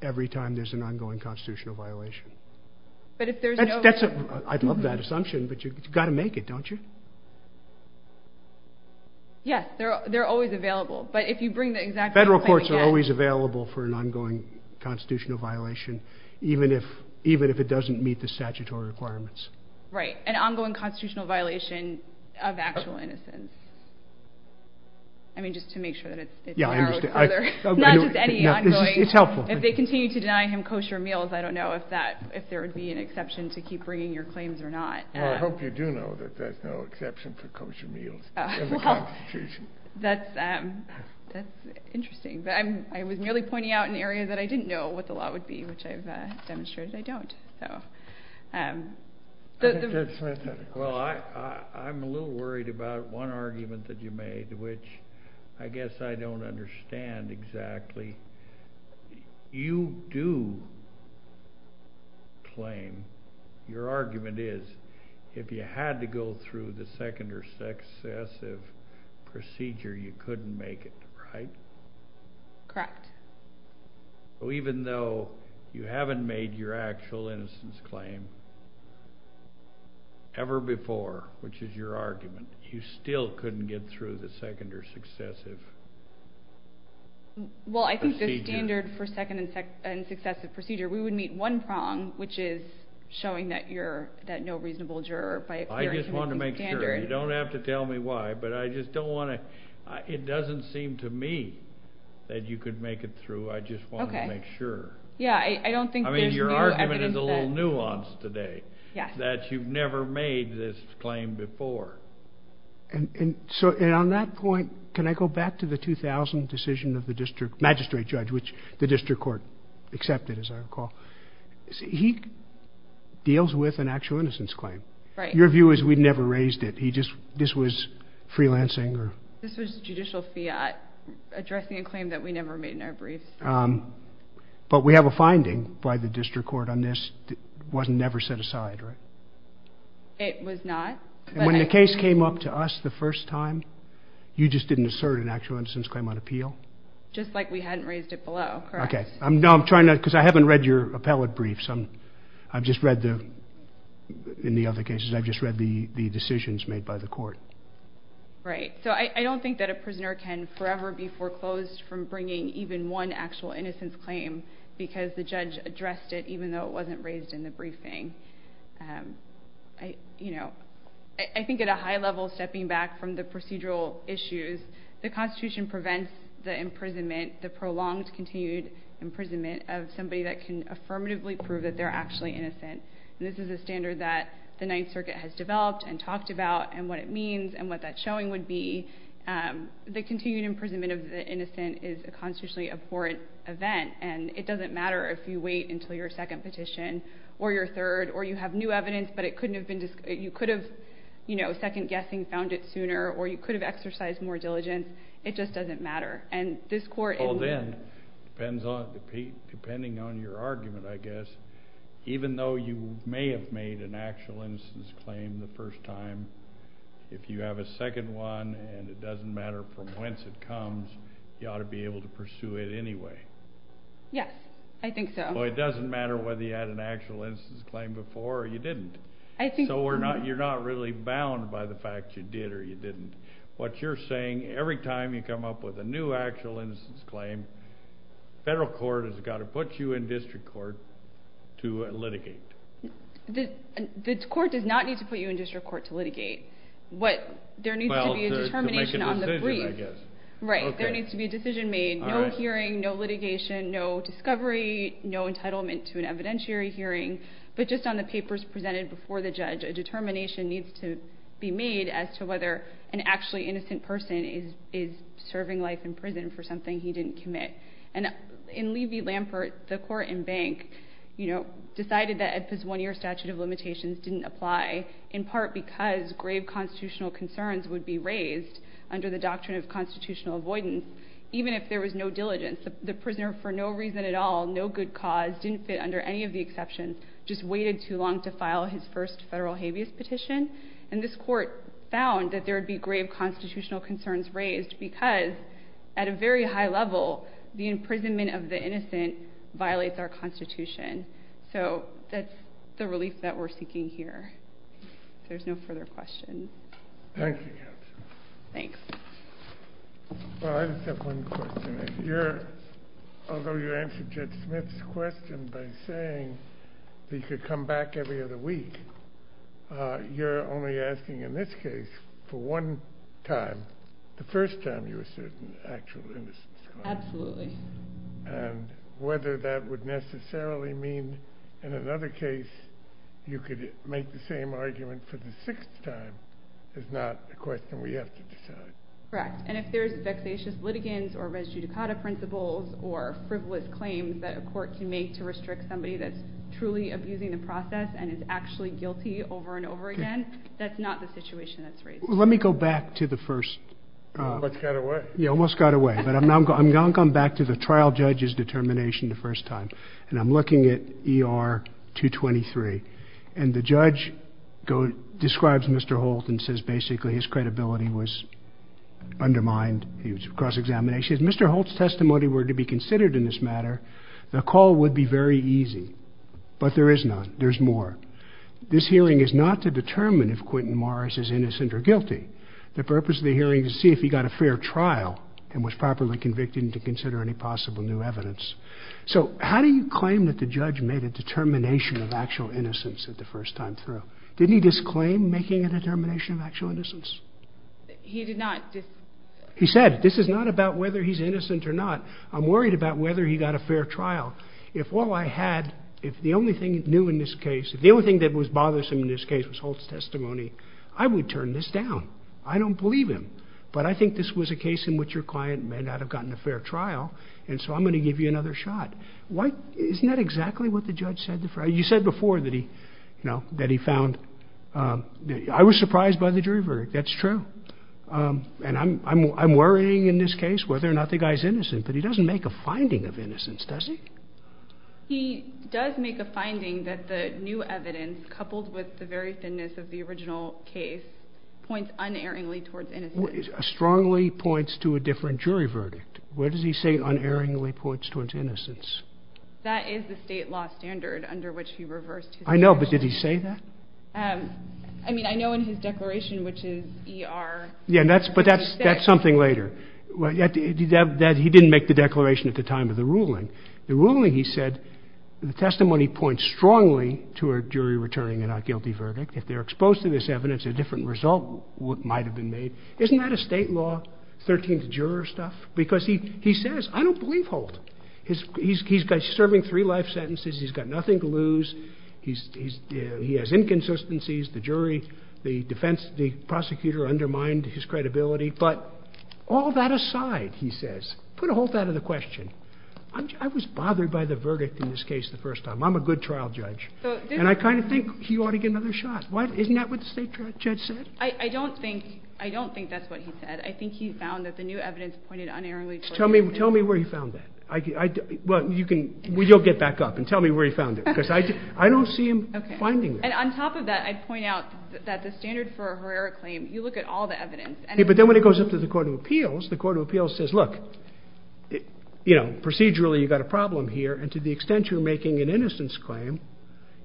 every time there's an ongoing constitutional violation. But if there's, I'd love that assumption, but you've got to make it, don't you? Yes. They're, they're always available, but if you bring the exact federal courts are always available for an ongoing constitutional violation, even if, even if it doesn't meet the statutory requirements, right. And ongoing constitutional violation of actual innocence. I mean, just to make sure that it's, it's helpful if they continue to deny him kosher meals. I don't know if that, if there would be an exception to keep bringing your claims or not. I hope you do know that, that's no exception for kosher meals. That's, that's interesting that I'm, I was nearly pointing out an area that I didn't know what the law would be, which I've demonstrated. I don't know. Well, I'm a little worried about one argument that you made, which I guess I don't understand exactly. You do claim your argument is, if you had to go through the second or second, excessive procedure, you couldn't make it, right? Correct. Oh, even though you haven't made your actual instance claim ever before, which is your argument, you still couldn't get through the second or successive. Well, I think the standard for second and second and successive procedure, we would meet one prong, which is showing that you're that no reasonable juror. I just want to make sure you don't have to tell me why, but I just don't want to, it doesn't seem to me that you could make it through. I just want to make sure. Yeah. I don't think I mean, your argument is a little nuanced today that you've never made this claim before. And so on that point, can I go back to the 2000 decision of the district magistrate judge, which the district court accepted, as I recall, he deals with an actual innocence claim. Right. Your view is we'd never raised it. He just, this was freelancing or. This was judicial fiat addressing a claim that we never made in our brief. But we have a finding by the district court on this. It wasn't never set aside, right? It was not. When the case came up to us the first time, you just didn't assert an actual innocence claim on appeal. Just like we hadn't raised it below. Correct. Okay. I'm trying to, because I haven't read your appellate briefs. I'm, I've just read the, in the other cases, I've just read the decisions made by the court. Right. So I don't think that a prisoner can forever be foreclosed from bringing even one actual innocence claim because the judge addressed it, even though it wasn't raised in the briefing. I, you know, I think at a high level, stepping back from the procedural issues, the constitution prevents the imprisonment, the prolonged, continued imprisonment of somebody that can affirmatively prove that they're actually innocent. And this is a standard that the ninth circuit has developed and talked about and what it means and what that showing would be. The continued imprisonment of the innocent is a consciously abhorrent event. And it doesn't matter if you wait until your second petition or your third, or you have new evidence, but it couldn't have been, you could have, you know, second guessing, found it sooner, or you could have exercised more diligence. It just doesn't matter. And this court, well, then depends on the peak, depending on your argument, I guess, even though you may have made an actual instance claim the first time, if you have a second one and it doesn't matter from whence it comes, you ought to be able to pursue it anyway. Yeah, I think so. It doesn't matter whether you had an actual instance claim before you didn't. I think so. We're not, you're not really bound by the fact you did, or you didn't what you're saying. Every time you come up with a new actual instance claim, federal court has got to put you in district court to litigate. The court does not need to put you in district court to litigate. What, there needs to be a determination on the plea. Right. There needs to be a decision made. No hearing, no litigation, no discovery, no entitlement to an evidentiary hearing, but just on the papers presented before the judge, a determination needs to be made as to whether an actually innocent person is serving life in prison for something he didn't commit. And in Levy-Lampert, the court and bank, you know, decided that Edson's one year statute of limitations didn't apply in part because grave constitutional concerns would be raised under the doctrine of constitutional avoidance. Even if there was no diligence, the prisoner for no reason at all, no good cause didn't fit under any of the exceptions, just waited too long to file his first federal habeas petition. And this court found that there would be grave constitutional concerns raised because at a very high level, the imprisonment of the innocent violates our constitution. So that's the relief that we're seeking here. There's no further questions. Thank you. Thanks. I just have one question. Although you answered Judge Smith's question by saying he could come back every other week, you're only asking, in this case, for one time, the first time you're sitting actually innocent. Absolutely. And whether that would necessarily mean in another case, you could make the same argument for the sixth time is not a question we have to decide. Correct. And if there's vexatious litigants or res judicata principles or frivolous claims that a court can make to restrict somebody that's truly abusing the guilty over and over again, that's not the situation. That's right. Let me go back to the first. You almost got away, but I'm not going to come back to the trial judge's determination the first time. And I'm looking at ER two 23 and the judge describes Mr. Holt and says, basically his credibility was undermined. He was cross examination. If Mr. Holt's testimony were to be considered in this matter, the call would be very easy, but there is none. There's more. This hearing is not to determine if Quentin Morris is innocent or guilty. The purpose of the hearing is to see if he got a fair trial and was properly convicted to consider any possible new evidence. So how do you claim that the judge made a determination of actual innocence at the first time through? Didn't he disclaim making a determination of actual innocence? He did not. He said, this is not about whether he's innocent or not. I'm worried about whether he got a fair trial. If all I had, if the only thing new in this case, if the only thing that was bothersome in this case was Holt's testimony, I would turn this down. I don't believe him, but I think this was a case in which your client may not have gotten a fair trial. And so I'm going to give you another shot. Isn't that exactly what the judge said? You said before that he, you know, that he found, I was surprised by the jury verdict. That's true. And I'm, I'm, I'm worrying in this case, whether or not the guy's innocent, but he doesn't make a finding of innocence, does he? He does make a finding that the new evidence, coupled with the very thinness of the original case, points unerringly towards innocence. Strongly points to a different jury verdict. Where does he say unerringly points towards innocence? That is the state law standard under which he reversed. I know, but did he say that? I mean, I know in his declaration, which is ER. Yeah, that's, but that's, that's something later. He didn't make the declaration at the time of the ruling. The ruling, he said, the testimony points strongly to a jury returning a not guilty verdict. If they're exposed to this evidence, a different result might've been made. Isn't that a state law 13th juror stuff? Because he, he says, I don't believe hold his, he's, he's got serving three life sentences. He's got nothing to lose. He's, he's, he has inconsistencies. The jury, the defense, the prosecutor undermined his credibility, but all that aside, he says, put a whole lot of the question. I was bothered by the verdict in this case. The first time I'm a good trial judge, and I kind of think he ought to get another shot. Why isn't that what state judge said? I don't think, I don't think that's what he said. I think he found that the new evidence pointed unerringly. Tell me, tell me where he found that. I, well, you can, we don't get back up and tell me where he found it because I, I don't see him finding it. And on top of that, I'd point out that the standard for a rare claim, you look at all the evidence, but then when it goes up to the court of appeals, the court of appeals says, look, you know, procedurally, you've got a problem here. And to the extent you're making an innocence claim,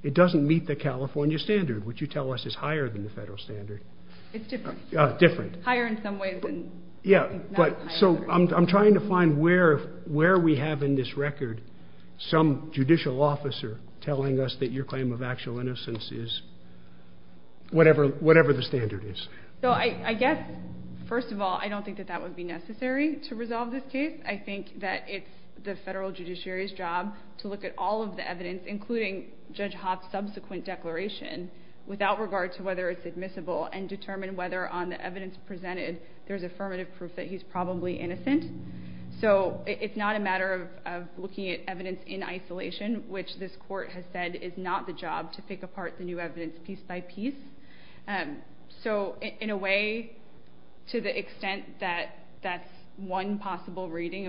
it doesn't meet the California standard, which you tell us is higher than the federal standard. It's different. Different. Higher in some ways. Yeah, but so I'm, I'm trying to find where, where we have in this record, some judicial officer telling us that your claim of actual innocence is whatever, whatever the standard is. So I, I guess, first of all, I don't think that that would be necessary to resolve this case. I think that it's the federal judiciary's job to look at all of the evidence, including judge hot subsequent declaration without regard to whether it's admissible and determine whether on the evidence presented there's affirmative proof that he's probably innocent. So it's not a matter of, of looking at evidence in isolation, which this court has said is not the job to pick apart the new evidence piece by piece. And so in a way, To the extent that that's one possible reading,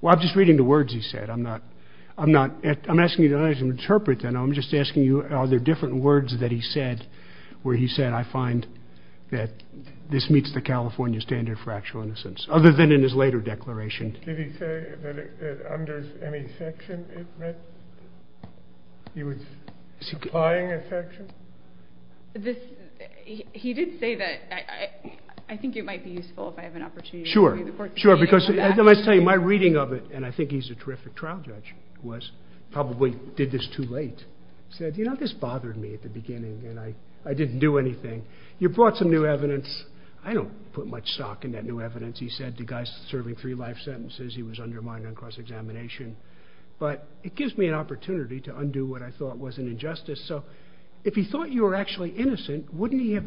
Well, I'm just reading the words. He said, I'm not, I'm not, I'm asking you to let him interpret. Then I'm just asking you, are there different words that he said, where he said, I find that this meets the California standard for actual innocence, other than in his later declaration. Did he say that under any section? He was supplying a section. He did say that. I think it might be useful if I have an opportunity. Sure. Sure. Because as I say, my reading of it, and I think he's a terrific trial judge was probably did this too late. He said, you know, this bothered me at the beginning. And I, I didn't do anything. You brought some new evidence. I don't put much stock in that new evidence. He said to guys serving three life sentences, he was undermined on cross examination, but it gives me an opportunity to undo what I thought was an injustice. So if he thought you were actually innocent, wouldn't he have,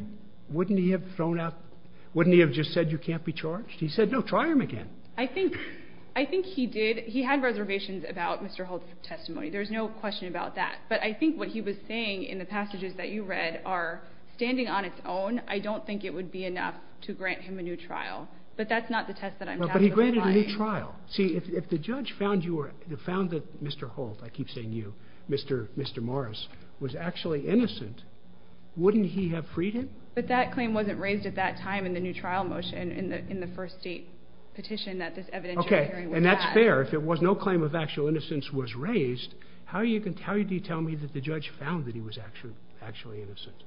wouldn't he have thrown out? Wouldn't he have just said, you can't be charged. He said, don't try him again. I think, I think he did. He had reservations about Mr. Holt's testimony. There's no question about that, but I think what he was saying in the passages that you read are standing on its own. I don't think it would be enough to grant him a new trial, but that's not the test that I'm. He granted a new trial. See, if the judge found you were the founder, Mr. Holt, I keep saying you, Mr. Mr. Morris was actually innocent. Wouldn't he have freed him? But that claim wasn't raised at that time in the new trial motion in the, in the first state petition that this evidence. Okay. And that's fair. If it was no claim of actual innocence was raised, how are you going to tell you? Do you tell me that the judge found that he was actually, actually innocent?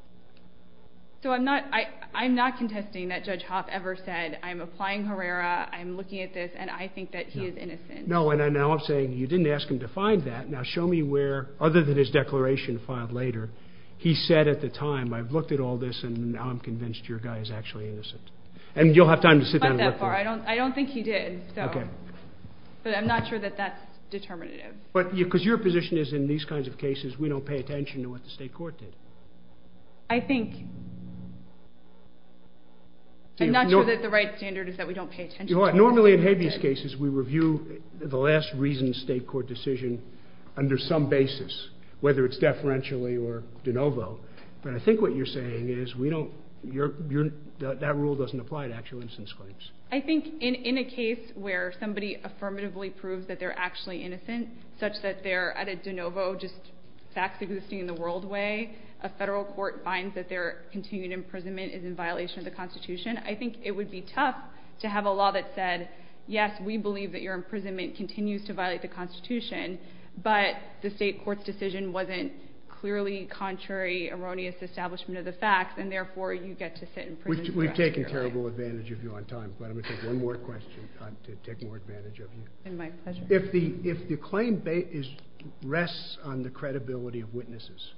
So I'm not, I, I'm not contesting that judge hop ever said I'm applying Herrera. I'm looking at this and I think that he is innocent. No. And then now I'm saying you didn't ask him to find that. Now show me where, other than his declaration filed later, he said at the time, I've looked at all this. And now I'm convinced your guy is actually innocent. And you'll have time to sit down. I don't, I don't think he did. Okay. But I'm not sure that that's determinative. But because your position is in these kinds of cases, we don't pay attention to what the state court did. I think. I'm not sure that the right standard is that we don't pay attention. Normally in habeas cases, we review the last reason state court decision under some basis, whether it's deferentially or de novo. And I think what you're saying is we don't, you're, that rule doesn't apply to actual innocence claims. I think in, in a case where somebody affirmatively proved that they're actually innocent, such that they're at a de novo, just facts existing in the world way, a federal court finds that their continued imprisonment is in violation of the constitution. I think it would be tough to have a law that said, yes, we believe that your imprisonment continues to violate the constitution, but the state court decision wasn't clearly contrary, erroneous establishment of the facts. And therefore you get to sit in prison. We've taken terrible advantage of you on time. Let me take one more question to take more advantage of you. If the, if the claim is rests on the credibility of witnesses,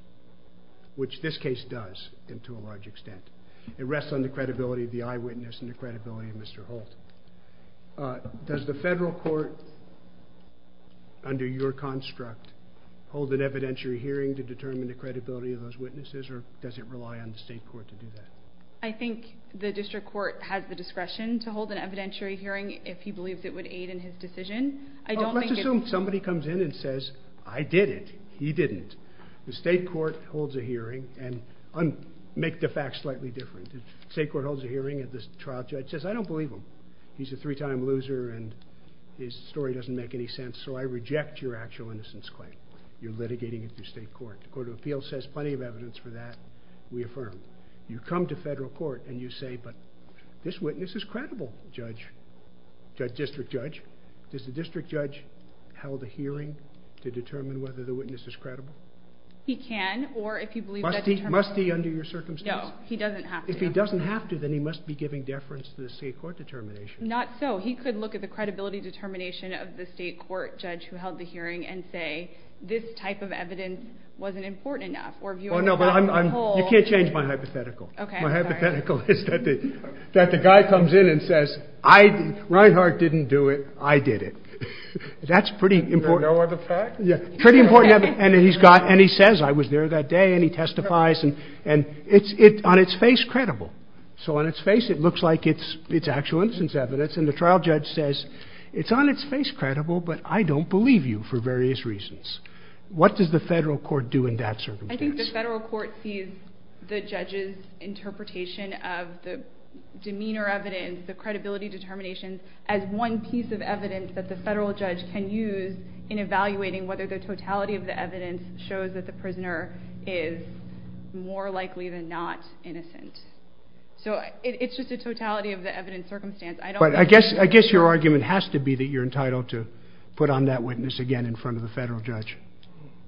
which this case does into a large extent, it rests on the credibility of the eyewitness and the credibility of Mr. Holt. Does the federal court under your construct hold an evidentiary hearing to determine the credibility of those witnesses or does it rely on the state court to do that? I think the district court has the discretion to hold an evidentiary hearing. If he believes it would aid in his decision, I don't assume somebody comes in and says, I did it. He didn't. The state court holds a hearing and make the facts slightly different. The state court holds a hearing at this trial judge says, I don't believe him. He's a three time loser. And his story doesn't make any sense. So I reject your actual innocence claim. You're litigating at your state court. Court of appeals says plenty of evidence for that. We affirm you come to federal court and you say, but this witness is credible. Judge judge district judge is the district judge held a hearing to determine whether the witness is credible. He can, or if you believe must be under your circumstance, he doesn't have, if he doesn't have to, then he must be giving deference to the state court determination. Not so he could look at the credibility determination of the state court judge who held the hearing and say, this type of evidence wasn't important enough. Or if you, you can't change my hypothetical hypothetical is that the, that the guy comes in and says, I Reinhart didn't do it. I did it. That's pretty important. Yeah. Pretty important. And then he's got, and he says, I was there that day and he testifies and, and it's it on its face credible. So on its face, it looks like it's, it's actual instance evidence. And the trial judge says it's on its face credible, but I don't believe you for various reasons. What does the federal court do in that circumstance? The federal court sees the judges interpretation of the demeanor evidence, the credibility determination as one piece of evidence that the federal judge can use in evaluating whether the totality of the evidence shows that the prisoner is more likely than not innocent. So it's just the totality of the evidence circumstance. I guess, I guess your argument has to be that you're entitled to put on that witness again in front of the federal judge.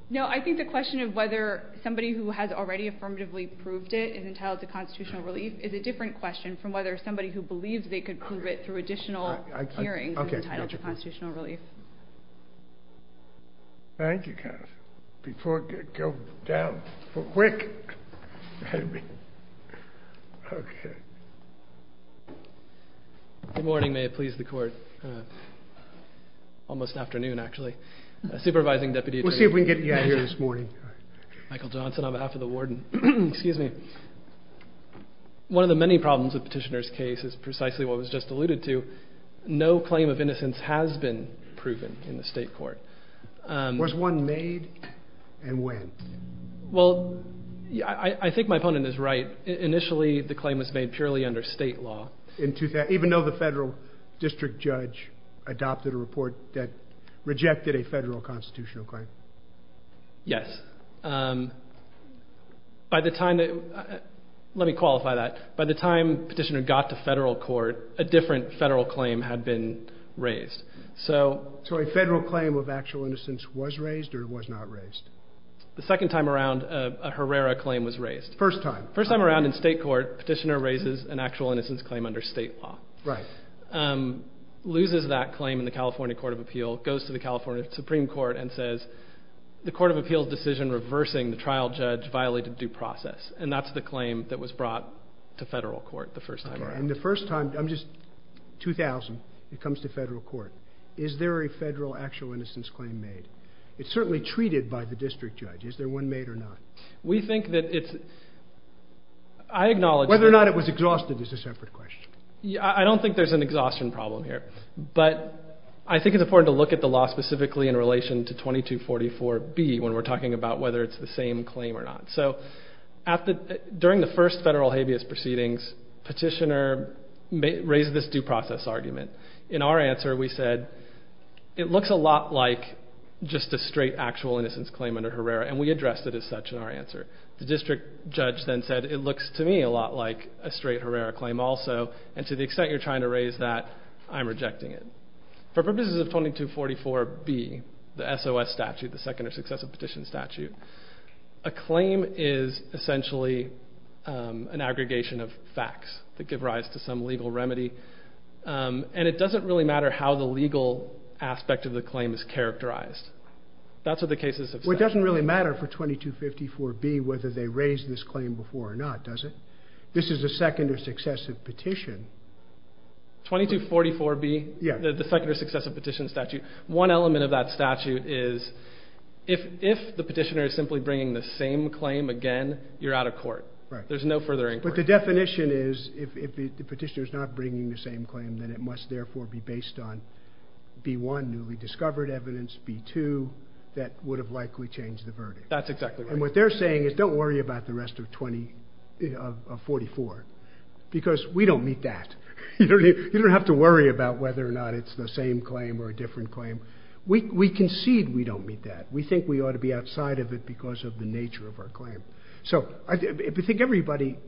No, I think the question of whether somebody who has already affirmatively proved it is entitled to constitutional relief is a different question from whether somebody who believes they could prove it through additional hearing. Okay. Constitutional relief. Thank you. Before you go down for quick. Okay. Good morning. May it please the court. Almost afternoon, actually a supervising deputy. Let's see if we can get it. Yeah. Here this morning. Michael Johnson. I'm after the warden. Excuse me. One of the many problems with petitioner's case is precisely what was just alluded to. Um, where's one made. And when? Well, I don't know. Yeah, I think my opponent is right. Initially, the claim was made purely under state law into that, even though the federal district judge adopted a report that rejected a federal constitutional claim. Yes. Um, by the time that let me qualify that by the time petitioner got to federal court, a different federal claim had been raised. So, so a federal claim of actual innocence was raised or was not raised the second time around a Herrera claim was raised. First time, first time around in state court petitioner raises an actual innocence claim under state law. Right. Um, loses that claim in the California court of appeal goes to the California Supreme court and says the court of appeal decision, reversing the trial judge violated due process. And that's the claim that was brought to federal court. The first time. And the first time I'm just 2000, it comes to federal court. Is there a federal actual innocence claim made? It's certainly treated by the district judge. Is there one made or not? We think that it's, I acknowledge whether or not it was exhausted as a separate question. Yeah. I don't think there's an exhaustion problem here, but I think it's important to look at the law specifically in relation to 2244 B when we're talking about whether it's the same claim or not. So after, during the first federal habeas proceedings petitioner may raise this due process argument. In our answer, we said it looks a lot like just a straight actual innocence claim under Herrera. And we addressed it as such in our answer, the district judge then said, it looks to me a lot like a straight Herrera claim also. And to the extent you're trying to raise that I'm rejecting it for purposes of funding to 44 B the SOS statute, the second successive petition statute, a claim is essentially an aggregation of facts that give rise to some legal remedy. And it doesn't really matter how the legal aspect of the claim is characterized. That's what the case is. It doesn't really matter for 2254 B, whether they raised this claim before or not, does it? This is a second or successive petition. 2244 B the second successive petition statute. One element of that statute is if, if the petitioner is simply bringing the same claim again, you're out of court, right? There's no further, but the definition is if the petitioner is not bringing the same claim, then it must therefore be based on B one. Newly discovered evidence B two, that would have likely changed the verdict. That's exactly what they're saying is don't worry about the rest of 20 of 44 because we don't meet that. You don't have to worry about whether or not it's the same claim or a different claim. We concede. We don't meet that. We think we ought to be outside of it because of the nature of our client. So I think everybody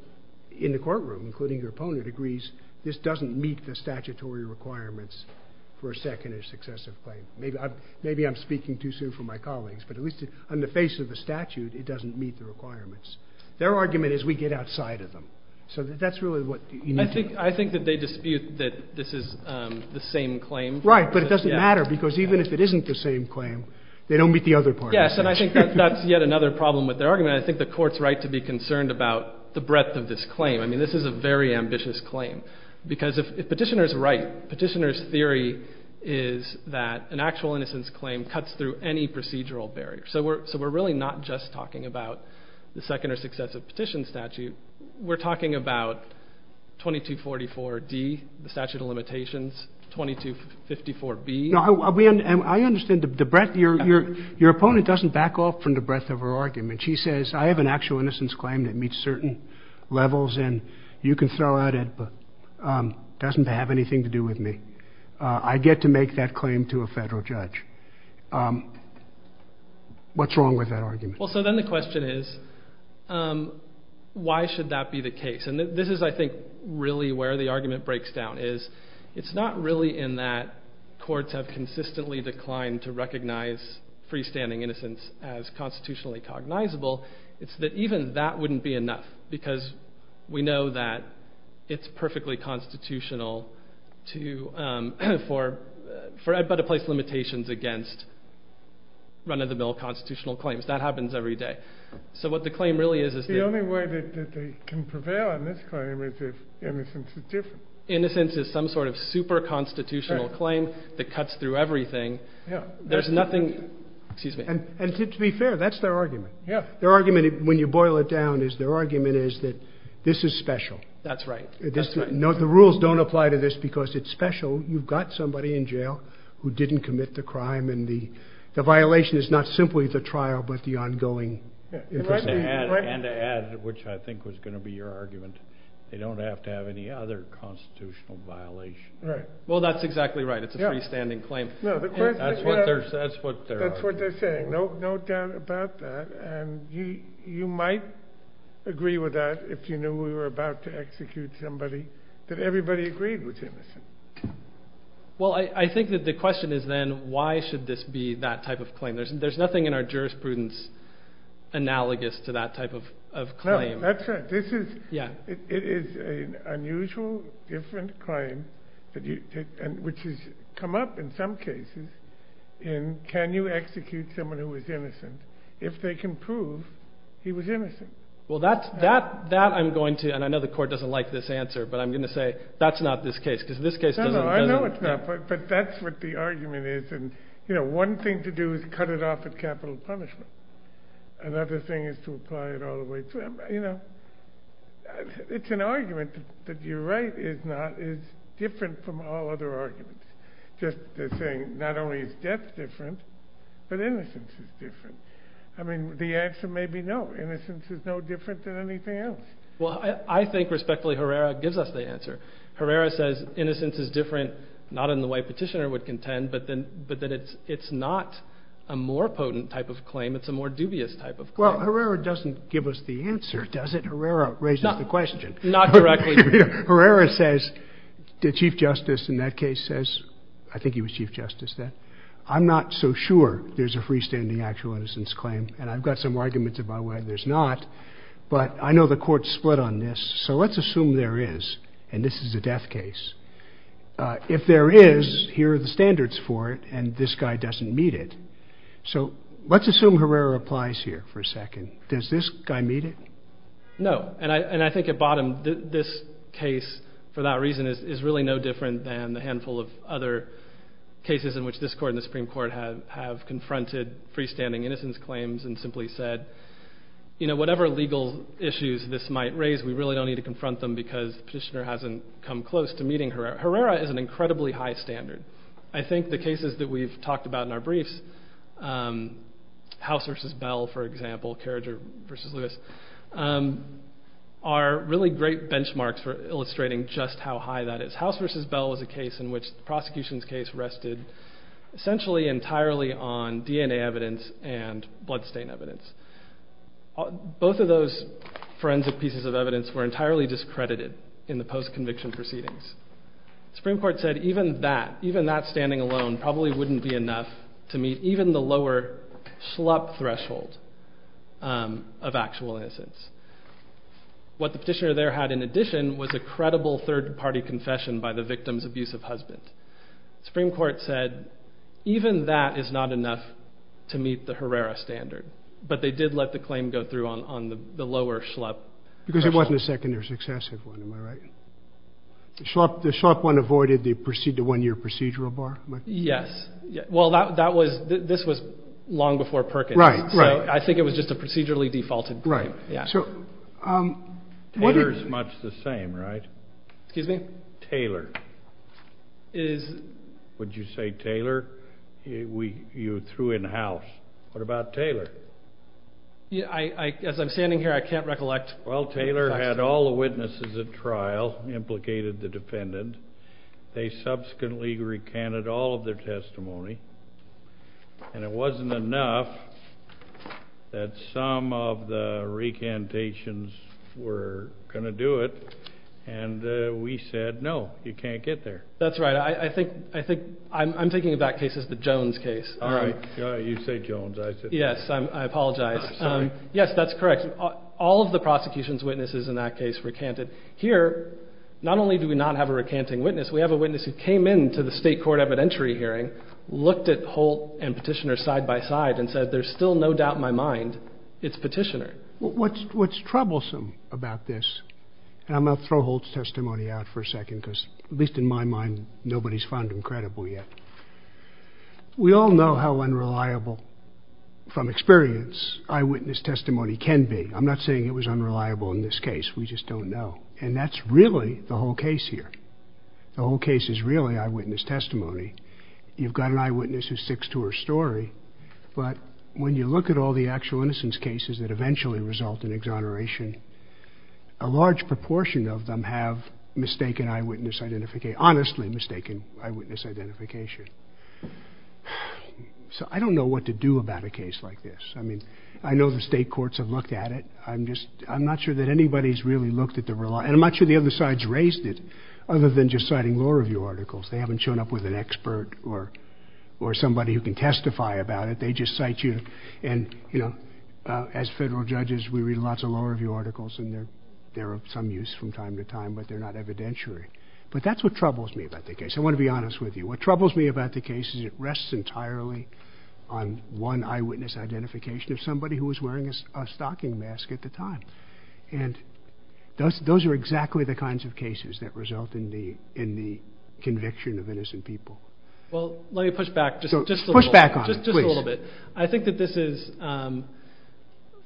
in the courtroom, including your opponent agrees. This doesn't meet the statutory requirements for a second is successive. Maybe I'm speaking too soon for my colleagues, but at least on the face of the statute, it doesn't meet the requirements. Their argument is we get outside of them. So that's really what you need. I think that they dispute that this is the same claim, right? But it doesn't matter because even if it isn't the same claim, they don't meet the other part. Yes. And I think that that's yet another problem with their argument. I think the court's right to be concerned about the breadth of this claim. I mean, this is a very ambitious claim because if petitioner's right, petitioner's theory is that an actual innocence claim cuts through any procedural barrier. So we're, so we're really not just talking about the second or successive petition statute. We're talking about 2244 D the statute of limitations, 2254 B. I mean, I understand the breadth of your, your opponent doesn't back off from the breadth of her argument. She says I have an actual innocence claim that meets certain levels and you can fill out it, but it doesn't have anything to do with me. I get to make that claim to a federal judge. What's wrong with that argument? Well, so then the question is, why should that be the case? And this is, I think really where the argument breaks down is it's not really in that courts have consistently declined to recognize freestanding innocence as constitutionally cognizable. It's that even that wouldn't be enough because we know that it's perfectly constitutional to, um, for, for I'd better place limitations against running the bill, constitutional claims that happens every day. So what the claim really is, is the only way that they can prevail on this claim is if everything's different. Innocence is some sort of super constitutional claim that cuts through everything. There's nothing, excuse me. And to be fair, that's their argument. Their argument, when you boil it down is their argument is that this is special. That's right. No, the rules don't apply to this because it's special. You've got somebody in jail who didn't commit the crime. And the, the violation is not simply the trial, but the ongoing, which I think was going to be your argument. They don't have to have any other constitutional violation. Well, that's exactly right. It's a free standing claim. That's what they're saying. No, no doubt about that. And you, you might agree with that. If you knew we were about to execute somebody that everybody agreed with. Well, I think that the question is then why should this be that type of claim? There's, there's nothing in our jurisprudence analogous to that type of, of client. That's right. This is, yeah, it is a unusual, different client, but you, which has come up in some cases in, can you execute someone who was innocent if they can prove he was innocent? Well, that's that, that I'm going to, and I know the court doesn't like this answer, but I'm going to say that's not this case because this case, but that's what the argument is. And, you know, one thing to do is cut it off at capital punishment. Another thing is to apply it all the way. So, you know, it's an argument that you're right. It's not, it's different from all other arguments. Just the thing, not only is death different, but innocence is different. I mean, the answer may be no innocence is no different than anything else. Well, I think respectfully Herrera gives us the answer. Herrera says innocence is different, not in the way petitioner would contend, but then, but then it's, it's not a more potent type of claim. It's a more dubious type of, well, Herrera doesn't give us the answer. Does it? Herrera raises the question. Not correct. Herrera says the chief justice in that case says, I think he was chief justice. I'm not so sure there's a freestanding actual innocence claim. And I've got some arguments about why there's not, but I know the court split on this. So let's assume there is, and this is a death case. If there is, here are the standards for it. And this guy doesn't meet it. So let's assume Herrera applies here for a second. Does this guy meet it? No. And I, and I think at bottom, this case for that reason is, is really no different than the handful of other cases in which this court and the Supreme Court have, have confronted freestanding innocence claims and simply said, you know, whatever legal issues this might raise, we really don't need to confront them because the petitioner hasn't come close to meeting her. Herrera is an incredibly high standard. I think the cases that we've talked about in our briefs, House versus Bell, for example, Carriger versus Lewis, are really great benchmarks for illustrating just how high that is. House versus Bell is a case in which prosecution's case rested essentially entirely on DNA evidence and bloodstain evidence. Both of those forensic pieces of evidence were entirely discredited in the post-conviction proceedings. Supreme Court said, even that, even that standing alone probably wouldn't be enough to meet even the lower slump threshold of actual innocence. What the petitioner there had in addition was a credible third party confession by the victim's abusive husband. Supreme Court said, even that is not enough to meet the Herrera standard, but they did let the claim go through on the lower slump. Because it wasn't a second or successive one, am I right? The slump one avoided the one-year procedural bar? Yes. Well, that was, this was long before Perkins. Right, right. I think it was just a procedurally defaulted claim. Right. Yeah. So, Taylor's much the same, right? Excuse me? Taylor. Is, would you say Taylor? We, you threw in house. What about Taylor? Yeah, I, as I'm standing here, I can't recollect. Well, Taylor had all the witnesses at trial implicated the dependent. They subsequently recanted all of their testimony and it wasn't enough that some of the recantations were going to do it. And we said, no, you can't get there. That's right. I think, I think I'm thinking about cases, the Jones case. All right. You say Jones. I said, yes, I apologize. Yes, that's correct. All of the prosecution's witnesses in that case recanted here. Not only do we not have a recanting witness, we have a witness who came into the state court evidentiary hearing, looked at Holt and petitioner side by side and said, there's still no doubt in my mind. It's petitioner. What's, what's troublesome about this? I'm going to throw Holt's testimony out for a second, because at least in my mind, nobody's found him credible yet. We all know how unreliable from experience eyewitness testimony can be. I'm not saying it was unreliable in this case. We just don't know. And that's really the whole case here. The whole case is really eyewitness testimony. You've got an eyewitness who sticks to her story, but when you look at all the actual innocence cases that eventually result in exoneration, a large proportion of them have mistaken eyewitness identification, honestly mistaken eyewitness identification. So I don't know what to do about a case like this. I mean, I know the state courts have looked at it. I'm just, I'm not sure that anybody's really looked at the real and I'm not sure the other sides raised it other than just citing law review articles. They haven't shown up with an expert or, or somebody who can testify about it. They just cite you. And, you know, as federal judges, we read lots of law review articles and there, there are some use from time to time, but they're not evidentiary. But that's what troubles me about the case. I want to be honest with you. What troubles me about the case is it rests entirely on one eyewitness identification of somebody who was wearing a stocking mask at the time. And those, those are exactly the kinds of cases that result in the, in the conviction of innocent people. Well, let me push back just a little bit. I think that this is,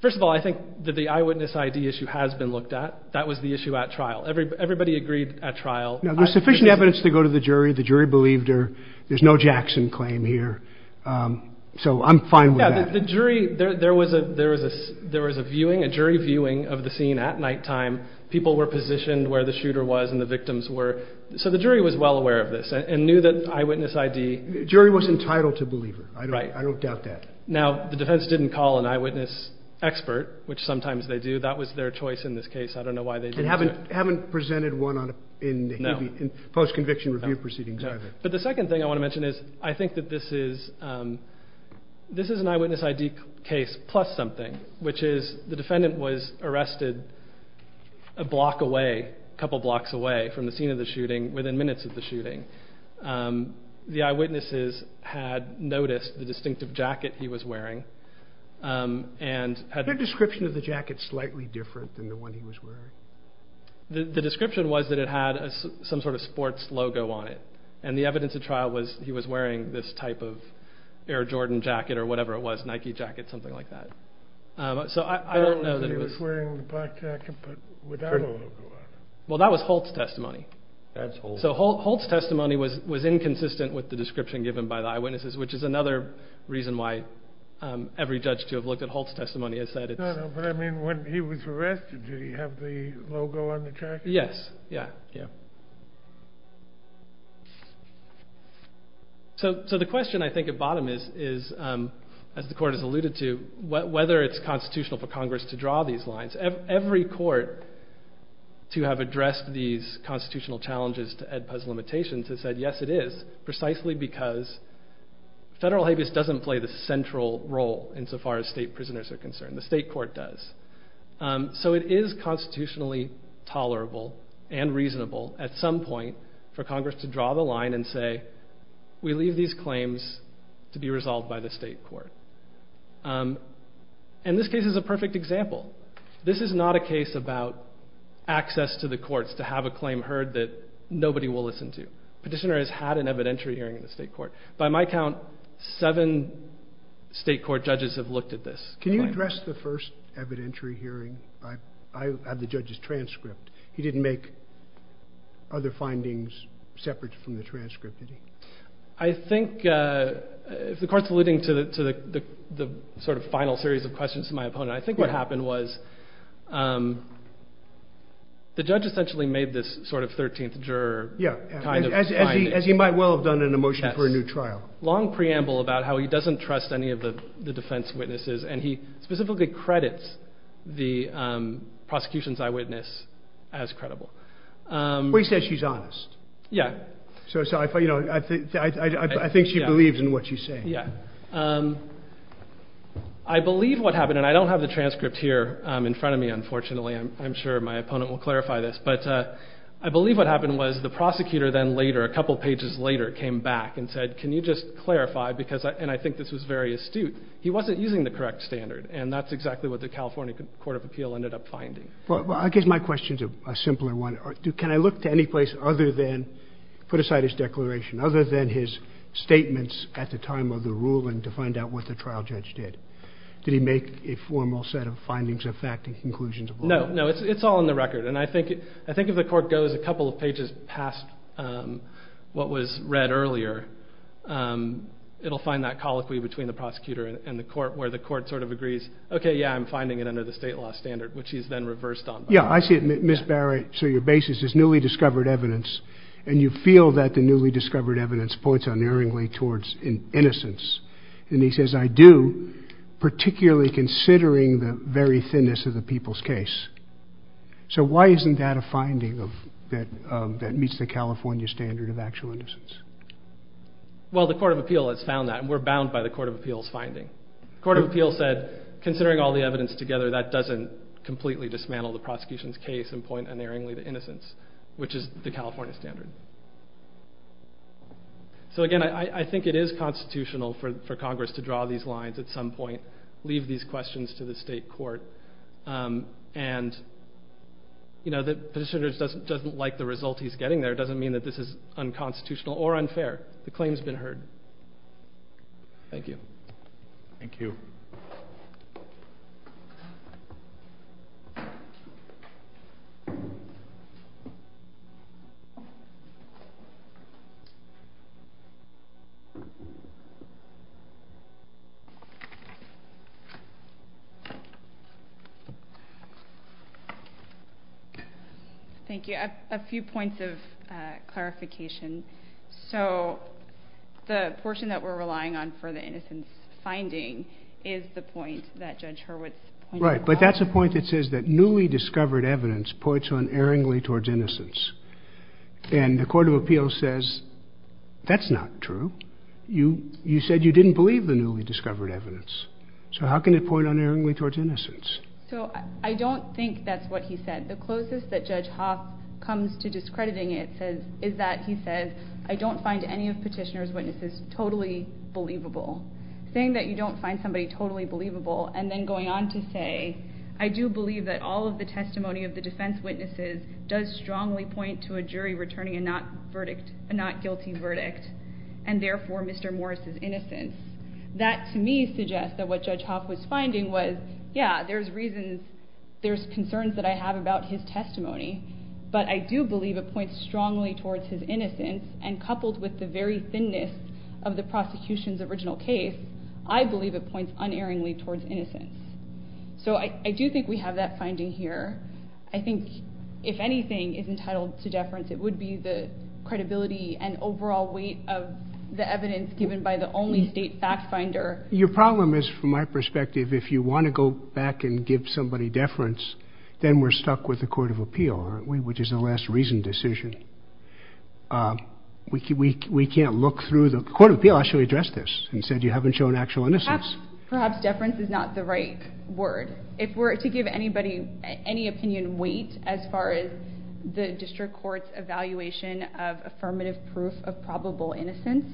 first of all, I think that the eyewitness ID issue has been looked at. That was the issue at trial. Everybody agreed at trial. There's sufficient evidence to go to the jury. The jury believed her. There's no Jackson claim here. So I'm fine with that. The jury, there was a, there was a, there was a viewing, a jury viewing of the scene at nighttime. People were positioned where the shooter was and the victims were. So the jury was well aware of this and knew that eyewitness ID jury was entitled to believe it. I don't doubt that. Now the defense didn't call an eyewitness expert, which sometimes they do. That was their choice in this case. I don't know why they haven't, haven't presented one on in post conviction review proceedings. But the second thing I want to mention is I think that this is, this is an eyewitness ID case plus something, which is the defendant was arrested a block away, a couple of blocks away from the scene of the shooting within minutes of the shooting. The eyewitnesses had noticed the distinctive jacket he was wearing. And had their description of the jacket slightly different than the one he was wearing. The description was that it had some sort of sports logo on it. And the evidence of trial was he was wearing this type of Air Jordan jacket or whatever it was, Nike jacket, something like that. So I, I don't know that he was wearing the black jacket. Well, that was Holt's testimony. So Holt's testimony was, was inconsistent with the description given by the eyewitnesses, which is another reason why every judge to have looked at Holt's testimony has said. I mean, when he was arrested, do you have the logo on the track? Yes. Yeah. So, so the question I think at bottom is, is as the court has alluded to whether it's constitutional for Congress to draw these lines, every court to have addressed these constitutional challenges to Ed Puz limitations has said, yes, it is precisely because federal habeas doesn't play the central role in so far as state prisoners are concerned. The state court does. So it is constitutionally tolerable and reasonable at some point for Congress to draw the line and say, we leave these claims to be resolved by the state court. And this case is a perfect example. This is not a case about access to the courts to have a claim heard that nobody will listen to petitioner has had an evidentiary hearing in the state court. By my count, seven state court judges have looked at this. Can you address the first evidentiary hearing? I, I had the judge's transcript. He didn't make other findings separate from the transcript. I think, uh, if the court's alluding to the, to the, the sort of final series of questions to my opponent, I think what happened was, um, the judge essentially made this sort of 13th juror as he might well have done an emotion for a new trial, long preamble about how he doesn't trust any of the defense witnesses. And he specifically credits the, um, prosecution's eyewitness as credible. Um, he says she's honest. Yeah. So, so I thought, you know, I think, I think she believes in what she's saying. Yeah. Um, I believe what happened and I don't have the transcript here, um, in front of me, unfortunately, I'm sure my opponent will clarify this, but, uh, I believe what happened was the prosecutor then later, a couple of pages later, came back and said, can you just clarify? Because I, and I think this was very astute. He wasn't using the correct standard. And that's exactly what the California court of appeal ended up finding. Well, I guess my question to a simpler one, can I look to any place other than put aside his declaration, other than his statements at the time of the ruling to find out what the trial judge did? Did he make a formal set of findings of fact and conclusions? No, no, it's all in the record. And I think, I think if the court goes a couple of pages past, um, what was read earlier, um, it'll find that colloquy between the prosecutor and the court where the court sort of agrees. Okay. Yeah. I'm finding it under the state law standard, which he's then reversed on. Yeah. I see it. Ms. Barrett. So your basis is newly discovered evidence. And you feel that the newly discovered evidence points on erringly towards innocence. And he says, I do particularly considering the very thinness of the people's case. So why isn't that a finding of that, um, that meets the California standard of actual innocence? Well, the court of appeal, it's found that we're bound by the court of appeals. Finding court of appeal said, considering all the evidence together, that doesn't completely dismantle the prosecution's case and point unerringly to innocence, which is the California standard. So again, I, I think it is constitutional for Congress to draw these lines at some point, leave these questions to the state court. Um, and. You know, that the senators doesn't, doesn't like the result. He's getting there. It doesn't mean that this is unconstitutional or unfair. The claim has been heard. Thank you. Thank you. Thank you. Thank you. Thank you. Thank you. A few points of, uh, clarification. So the portion that we're relying on for the innocence finding is the point that judge Hurwitz. Right. But that's a point that says that newly discovered evidence points on erringly towards innocence. And the court of appeals says, that's not true. You, you said you didn't believe the newly discovered evidence. So how can it point unerringly towards innocence? So I don't think that's what he said. The closest that judge Hoff comes to discrediting it says is that he says, I don't find any of petitioner's witnesses totally believable thing that you don't find somebody totally believable. And then going on to say, I do believe that all of the testimony of the defense witnesses does strongly point to a jury returning and not verdict and not guilty verdict. And therefore Mr. Morris is innocent. That to me suggests that what judge Hawk was finding was, yeah, there's reasons. There's concerns that I have about his testimony, but I do believe a point strongly towards his innocence and coupled with the very thinness of the prosecution's original case. I believe it points unerringly towards innocence. So I do think we have that finding here. I think if anything is entitled to deference, it would be the credibility and overall weight of the evidence given by the only state fact finder. Your problem is from my perspective, if you want to go back and give somebody deference, then we're stuck with the court of appeal, which is the last reason decision. Um, we can't, we can't look through the court of appeal. I should address this and said, you haven't shown actual innocence. Perhaps deference is not the right word. If we're to give anybody any opinion weight, as far as the district court's evaluation of affirmative proof of probable innocence,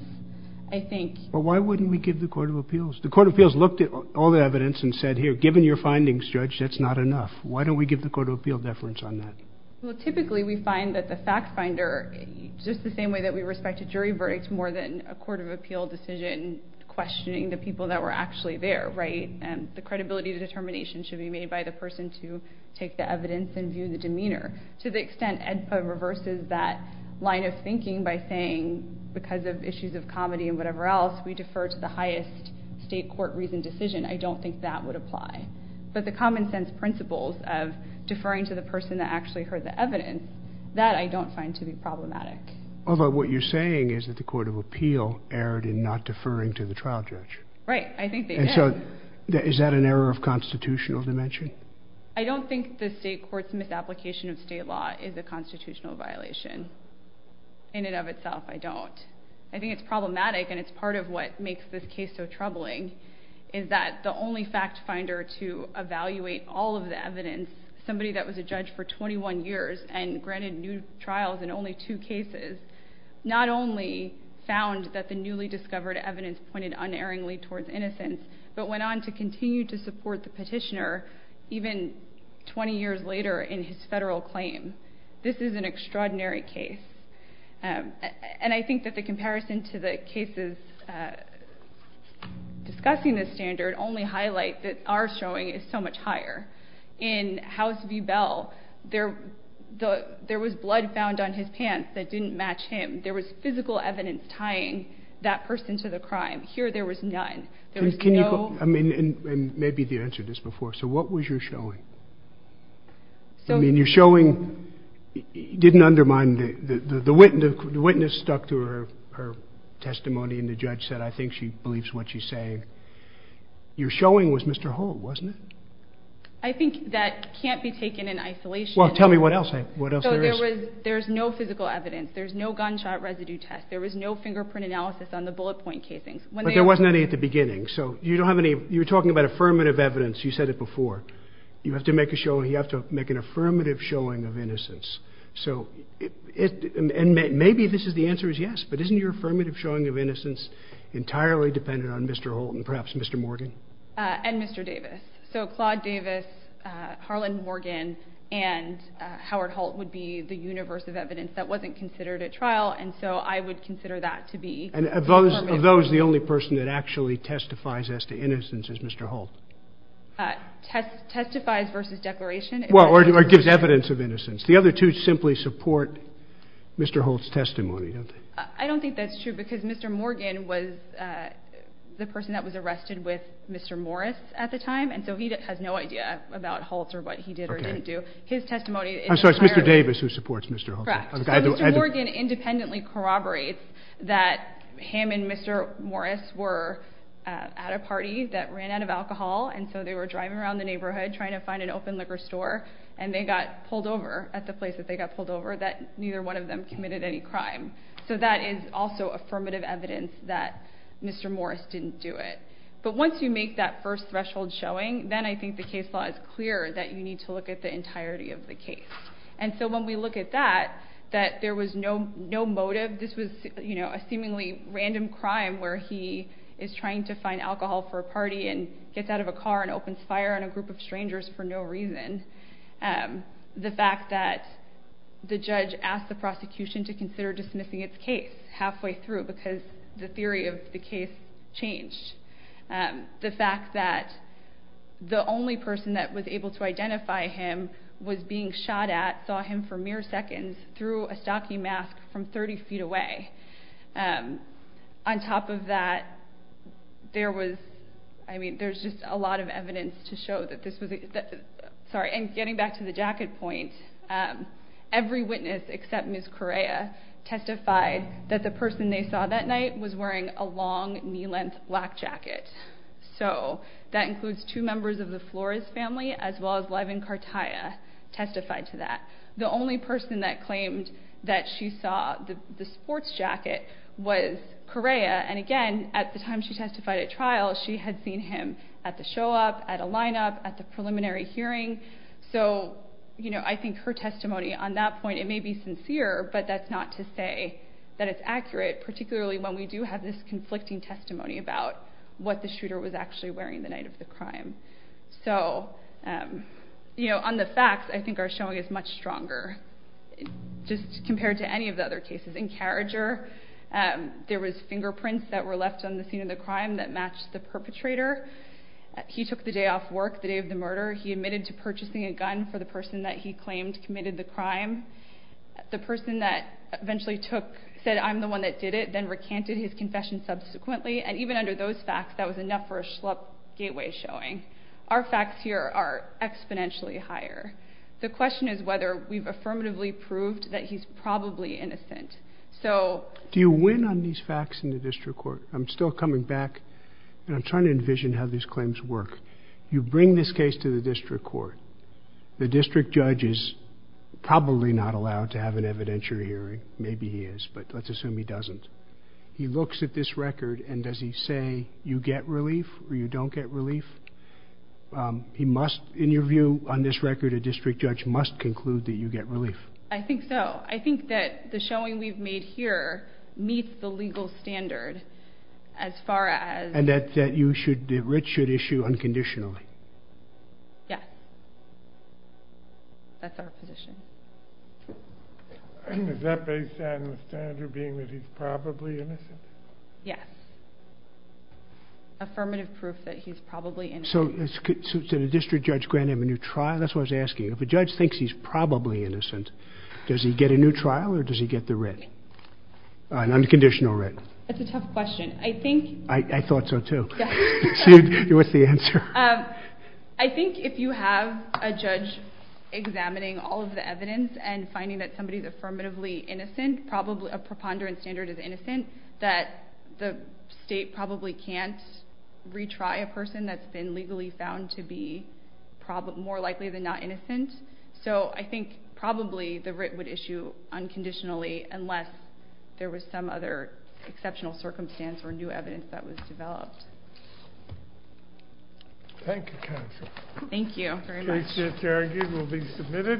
I think, well, why wouldn't we give the court of appeals? The court of appeals looked at all the evidence and said, here, given your findings judge, that's not enough. Why don't we give the court of appeal deference on that? Well, typically we find that the fact finder, just the same way that we respect a jury verdict, more than a court of appeal decision, questioning the people that were actually there. Right. And the credibility of the determination should be made by the person to take the evidence and view the demeanor to the extent and reverses that line of thinking by saying, because of issues of comedy and whatever else we defer to the highest state court reason decision. I don't think that would apply, but the common sense principles of deferring to the person that actually heard the evidence that I don't find to be problematic. Well, about what you're saying is that the court of appeal erred in not deferring to the trial judge. Right. I think that is that an error of constitutional dimension. I don't think the state court's misapplication of state law is a constitutional violation in and of itself. I don't, I think it's problematic and it's part of what makes this case so troubling is that the only fact finder to evaluate all of the evidence, somebody that was a judge for 21 years and granted new trials and only two cases, not only found that the newly discovered evidence pointed unerringly towards innocence, but went on to continue to support the petitioner even 20 years later in his federal claims. This is an extraordinary case. And I think that the comparison to the cases, uh, discussing this standard only highlights that our showing is so much higher in house view bell. There, the, there was blood found on his pants that didn't match him. There was physical evidence tying that person to the crime here. There was none. There was no, I mean, and maybe the answer to this before. So what was your showing? I mean, you're showing didn't undermine the, the witness, the witness stuck to her, her testimony. And the judge said, I think she believes what she's saying. You're showing was Mr. Holt. Wasn't it? I think that can't be taken in isolation. Well, tell me what else. What else? There's no physical evidence. There's no gunshot residue test. There was no fingerprint analysis on the bullet point casings. There wasn't any at the beginning. So you don't have any, you're talking about affirmative evidence. You said it before you have to make a show and you have to make an affirmative showing of innocence. So it, and maybe this is the answer is yes, but isn't your affirmative showing of innocence entirely dependent on Mr. Holt and perhaps Mr. Morgan and Mr. Davis. So Claude Davis, Harlan Morgan and Howard Holt would be the universe of evidence that wasn't considered at trial. And so I would consider that to be, and of those, of those, the only person that actually testifies as to innocence is Mr. Holt test testifies versus declaration. Well, or it gives evidence of innocence. The other two simply support Mr. Holt's testimony. I don't think that's true because Mr. Morgan was the person that was arrested with Mr. Morris at the time. And so he has no idea about Holt or what he did or didn't do his testimony. So it's Mr. Davis who supports Mr. Morgan independently corroborates that him and Mr. Morris were at a party that ran out of alcohol. And so they were driving around the neighborhood trying to find an open liquor store and they got pulled over. At the place that they got pulled over that neither one of them committed any crime. So that is also affirmative evidence that Mr. Morris didn't do it. But once you make that first threshold showing, then I think the case law is clear that you need to look at the entirety of the case. And so when we look at that, that there was no, no motive, this was, you know, a seemingly random crime where he is trying to find alcohol for a party and it's out of a car and opens fire on a group of strangers for no reason. The fact that the judge asked the prosecution to consider dismissing its case halfway through because the theory of the case changed. The fact that the only person that was able to identify him was being shot at, saw him for mere seconds through a stocking mask from 30 feet away. On top of that, there was, I mean, there's just a lot of evidence to show that this was, sorry, and getting back to the jacket point, every witness except Ms. Correa testified that the person they saw that night was wearing a long knee-length black jacket. So that includes two members of the Flores family, as well as Levin Cartaya testified to that. The only person that claimed that she saw the sports jacket was Correa. And again, at the time she testified at trial, she had seen him at the show up at a lineup at the preliminary hearing. So, you know, I think her testimony on that point, it may be sincere, but that's not to say that it's accurate, particularly when we do have this conflicting testimony about what the shooter was actually wearing the night of the crime. So, you know, on the facts, I think our showing is much stronger just compared to any of the other cases in Carriager. There was fingerprints that were left on the scene of the crime that matched the perpetrator. He took the day off work, the day of the murder. He admitted to purchasing a gun for the person that he claimed committed the crime. The person that eventually took said, I'm the one that did it, then recanted his confession subsequently. And even under those facts, that was enough for a slope gateway showing our facts here are exponentially higher. The question is whether we've affirmatively proved that he's probably innocent. So do you win on these facts in the district court? I'm still coming back and I'm trying to envision how these claims work. You bring this case to the district court. The district judge is probably not allowed to have an evidentiary hearing. Maybe he is, but let's assume he doesn't. He looks at this record and does he say you get relief or you don't get relief? He must, in your view on this record, a district judge must conclude that you get relief. I think so. I think that the showing we've made here meets the legal standard as far as, and that, that you should, the rich should issue unconditionally. Yeah. That's our position. Is that based on the standard being that he's probably innocent? Yeah. Affirmative proof that he's probably in. So, so the district judge grant him a new trial. That's what I was asking. If a judge thinks he's probably innocent, does he get a new trial or does he get the red? All right. Unconditional red. That's a tough question. I think I thought so too. What's the answer? I think if you have a judge examining all of the evidence and finding that somebody is affirmatively innocent, probably a preponderance standard is innocent that the state probably can't retry a person that's been legally found to be probably more likely than not innocent. So I think probably the writ would issue unconditionally unless there was some other exceptional circumstance or new evidence that was developed. Thank you. Thank you. Very much. We'll be submitted.